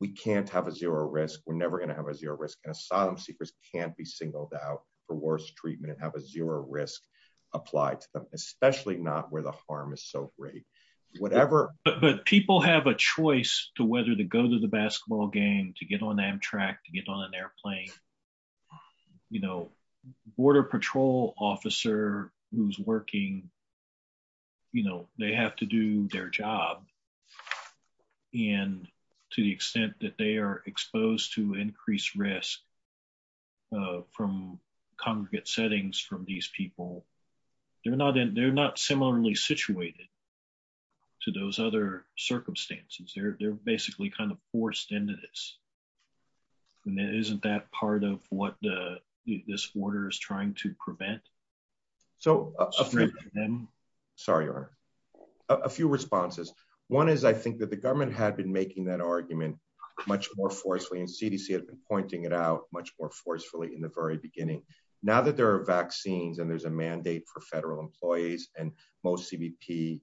we can't have a zero risk. We're never going to have a zero risk. And asylum seekers can't be singled out for worse treatment and have a zero risk applied to them, especially not where the harm is so great. But people have a choice to whether to go to the basketball game, to get on Amtrak, to get on an airplane, you know, border patrol officer who's working, you know, they have to do their job. And to the extent that they are exposed to increased risk from congregate settings from these people, they're not similarly situated to those other circumstances. They're basically kind of forced into this. And isn't that part of what this order is trying to prevent? So, sorry, a few responses. One is, I think that the government had been making that argument much more forcefully and CDC has been pointing it out much more forcefully in the very beginning. Now that there are vaccines and there's a mandate for federal employees and most CBP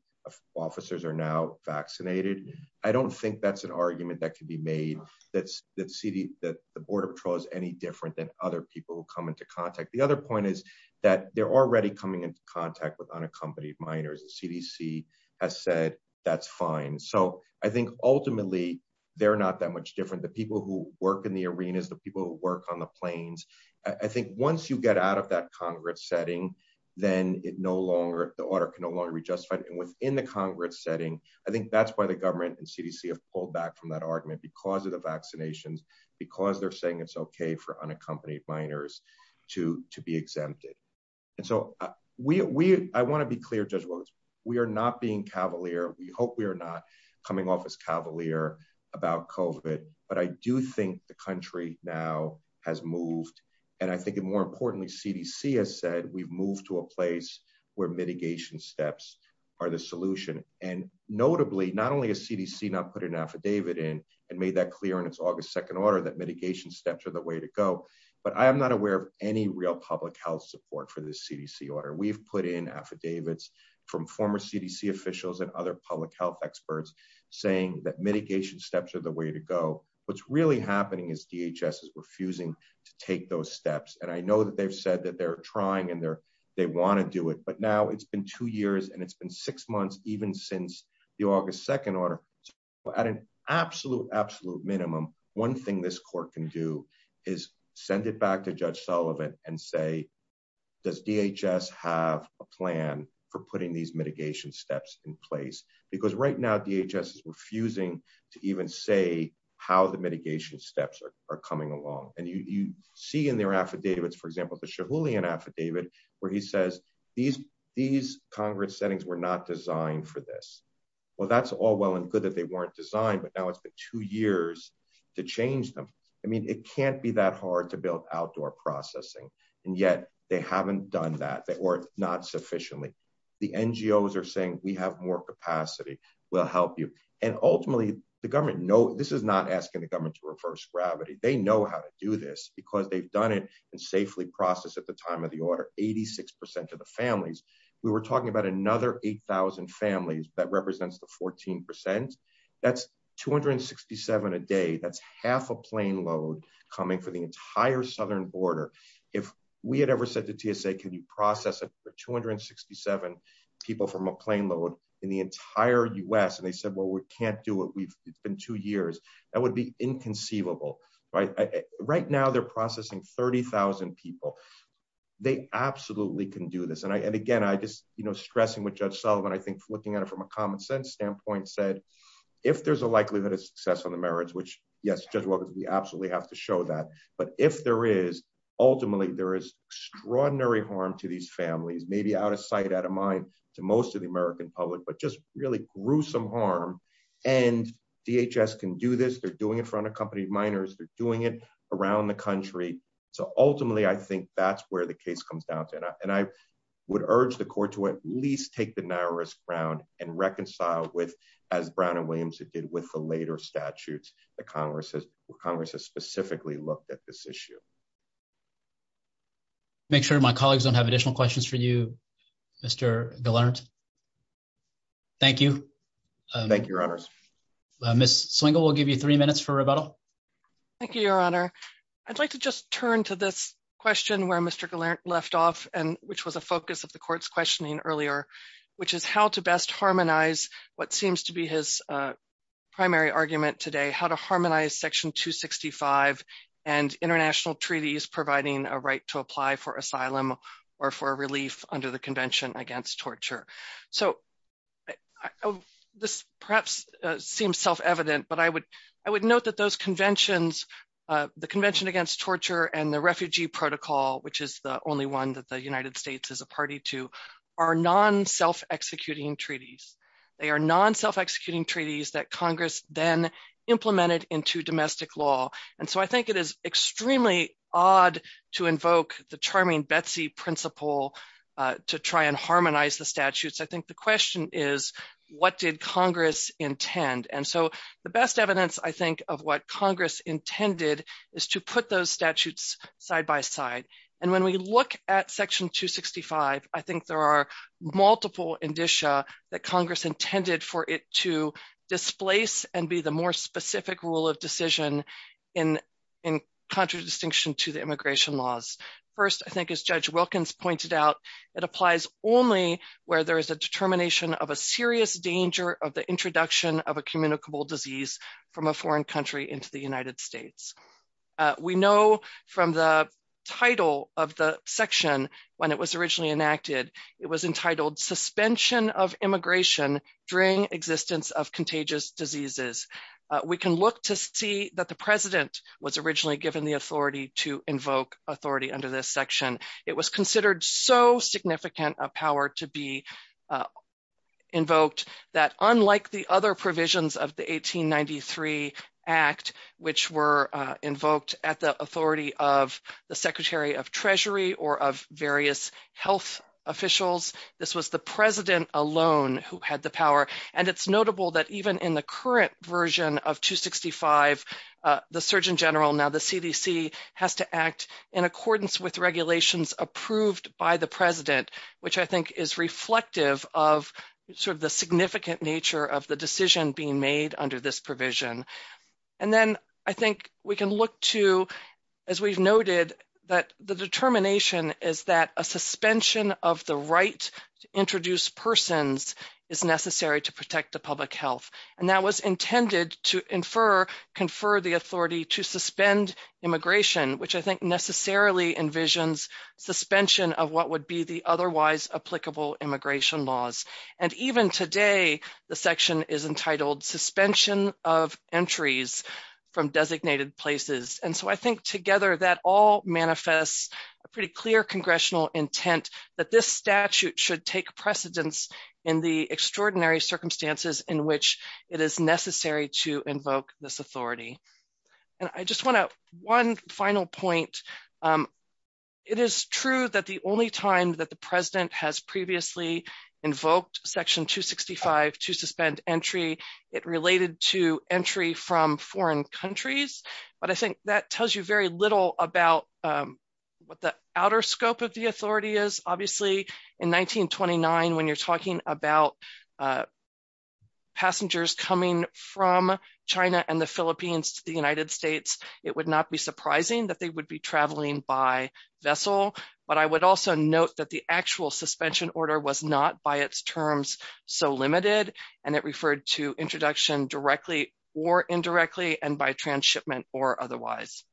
officers are now vaccinated. I don't think that's an argument that can be made that the border patrol is any different than other people who come into contact. The other point is that they're already coming into contact with unaccompanied minors. CDC has said that's fine. So I think ultimately they're not that much different. The people who work in the arenas, the people who work on the planes. I think once you get out of that congregate setting, then it no longer, the order can no longer be justified. And within the congregate setting, I think that's why the government and CDC have pulled back from that argument because of the vaccinations, because they're saying it's okay for unaccompanied minors to be exempted. And so we, I want to be clear, Judge Rose, we are not being cavalier. We hope we are not coming off as cavalier about COVID, but I do think the country now has moved. And I think more importantly, CDC has said, we've moved to a place where mitigation steps are the solution. And notably, not only has CDC not put an affidavit in and made that clear in its August 2nd order that mitigation steps are the way to go, but I am not aware of any real public health support for this CDC order. We've put in affidavits from former CDC officials and other public health experts saying that mitigation steps are the way to go. What's really happening is DHS is refusing to take those steps. And I know that they've said that they're trying and they want to do it. But now it's been two years and it's been six months, even since the August 2nd order. At an absolute, absolute minimum, one thing this court can do is send it back to Judge Sullivan and say, does DHS have a plan for putting these mitigation steps in place? Because right now, DHS is refusing to even say how the mitigation steps are coming along. And you see in their affidavits, for example, the Chihuly affidavit, where he says these, these Congress settings were not designed for this. Well, that's all well and good that they weren't designed, but now it's been two years to change them. I mean, it can't be that hard to build outdoor processing, and yet they haven't done that. The NGOs are saying we have more capacity. We'll help you. And ultimately, the government, no, this is not asking the government to reverse gravity. They know how to do this because they've done it and safely processed at the time of the order, 86% of the families. We were talking about another 8,000 families. That represents the 14%. That's 267 a day. That's half a plane load coming for the entire southern border. If we had ever said to TSA, can you process it for 267 people from a plane load in the entire U.S. And they said, well, we can't do it. We've been two years. That would be inconceivable. Right now, they're processing 30,000 people. They absolutely can do this. And again, I just, you know, stressing with Judge Sullivan, I think looking at it from a common sense standpoint said, if there's a likelihood of success on the merits, which, yes, Judge Walker, we absolutely have to show that. But if there is, ultimately, there is extraordinary harm to these families, maybe out of sight, out of mind to most of the American public, but just really gruesome harm. And DHS can do this. They're doing it for unaccompanied minors. They're doing it around the country. So ultimately, I think that's where the case comes down to. And I would urge the court to at least take the narrowest ground and reconcile with, as Brown and Williams did with the later statutes that Congress has specifically looked at this issue. Make sure my colleagues don't have additional questions for you, Mr. DeLaurentiis. Thank you. Thank you, Your Honor. Ms. Swingle will give you three minutes for rebuttal. Thank you, Your Honor. I'd like to just turn to this question where Mr. Gallant left off, which was a focus of the court's questioning earlier, which is how to best harmonize what seems to be his primary argument today, how to harmonize Section 265 and international treaties providing a right to apply for asylum or for relief under the Convention Against Torture. So this perhaps seems self-evident, but I would note that those conventions, the Convention Against Torture and the Refugee Protocol, which is the only one that the United States is a party to, are non-self-executing treaties. They are non-self-executing treaties that Congress then implemented into domestic law. And so I think it is extremely odd to invoke the charming Betsy principle to try and harmonize the statutes. I think the question is, what did Congress intend? And so the best evidence, I think, of what Congress intended is to put those statutes side by side. And when we look at Section 265, I think there are multiple indicia that Congress intended for it to displace and be the more specific rule of decision in contradistinction to the immigration laws. First, I think as Judge Wilkins pointed out, it applies only where there is a determination of a serious danger of the introduction of a communicable disease from a foreign country into the United States. We know from the title of the section when it was originally enacted, it was entitled Suspension of Immigration During Existence of Contagious Diseases. We can look to see that the President was originally given the authority to invoke authority under this section. It was considered so significant a power to be invoked that unlike the other provisions of the 1893 Act, which were invoked at the authority of the Secretary of Treasury or of various health officials, this was the President alone who had the power. And it's notable that even in the current version of 265, the Surgeon General, now the CDC, has to act in accordance with regulations approved by the President, which I think is reflective of the significant nature of the decision being made under this provision. And then I think we can look to, as we've noted, that the determination is that a suspension of the right to introduce persons is necessary to protect the public health. And that was intended to confer the authority to suspend immigration, which I think necessarily envisions suspension of what would be the otherwise applicable immigration laws. And even today, the section is entitled Suspension of Entries from Designated Places. And so I think together that all manifests a pretty clear congressional intent that this statute should take precedence in the extraordinary circumstances in which it is necessary to invoke this authority. And I just want to, one final point. It is true that the only time that the President has previously invoked Section 265 to suspend entry, it related to entry from foreign countries. But I think that tells you very little about what the outer scope of the authority is. Obviously, in 1929, when you're talking about passengers coming from China and the Philippines to the United States, it would not be surprising that they would be traveling by vessel. But I would also note that the actual suspension order was not, by its terms, so limited, and it referred to introduction directly or indirectly and by transshipment or otherwise.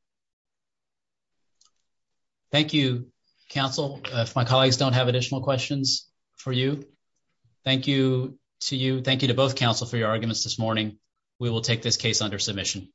Thank you, counsel. If my colleagues don't have additional questions for you, thank you to you. Thank you to both counsel for your arguments this morning. We will take this case under submission.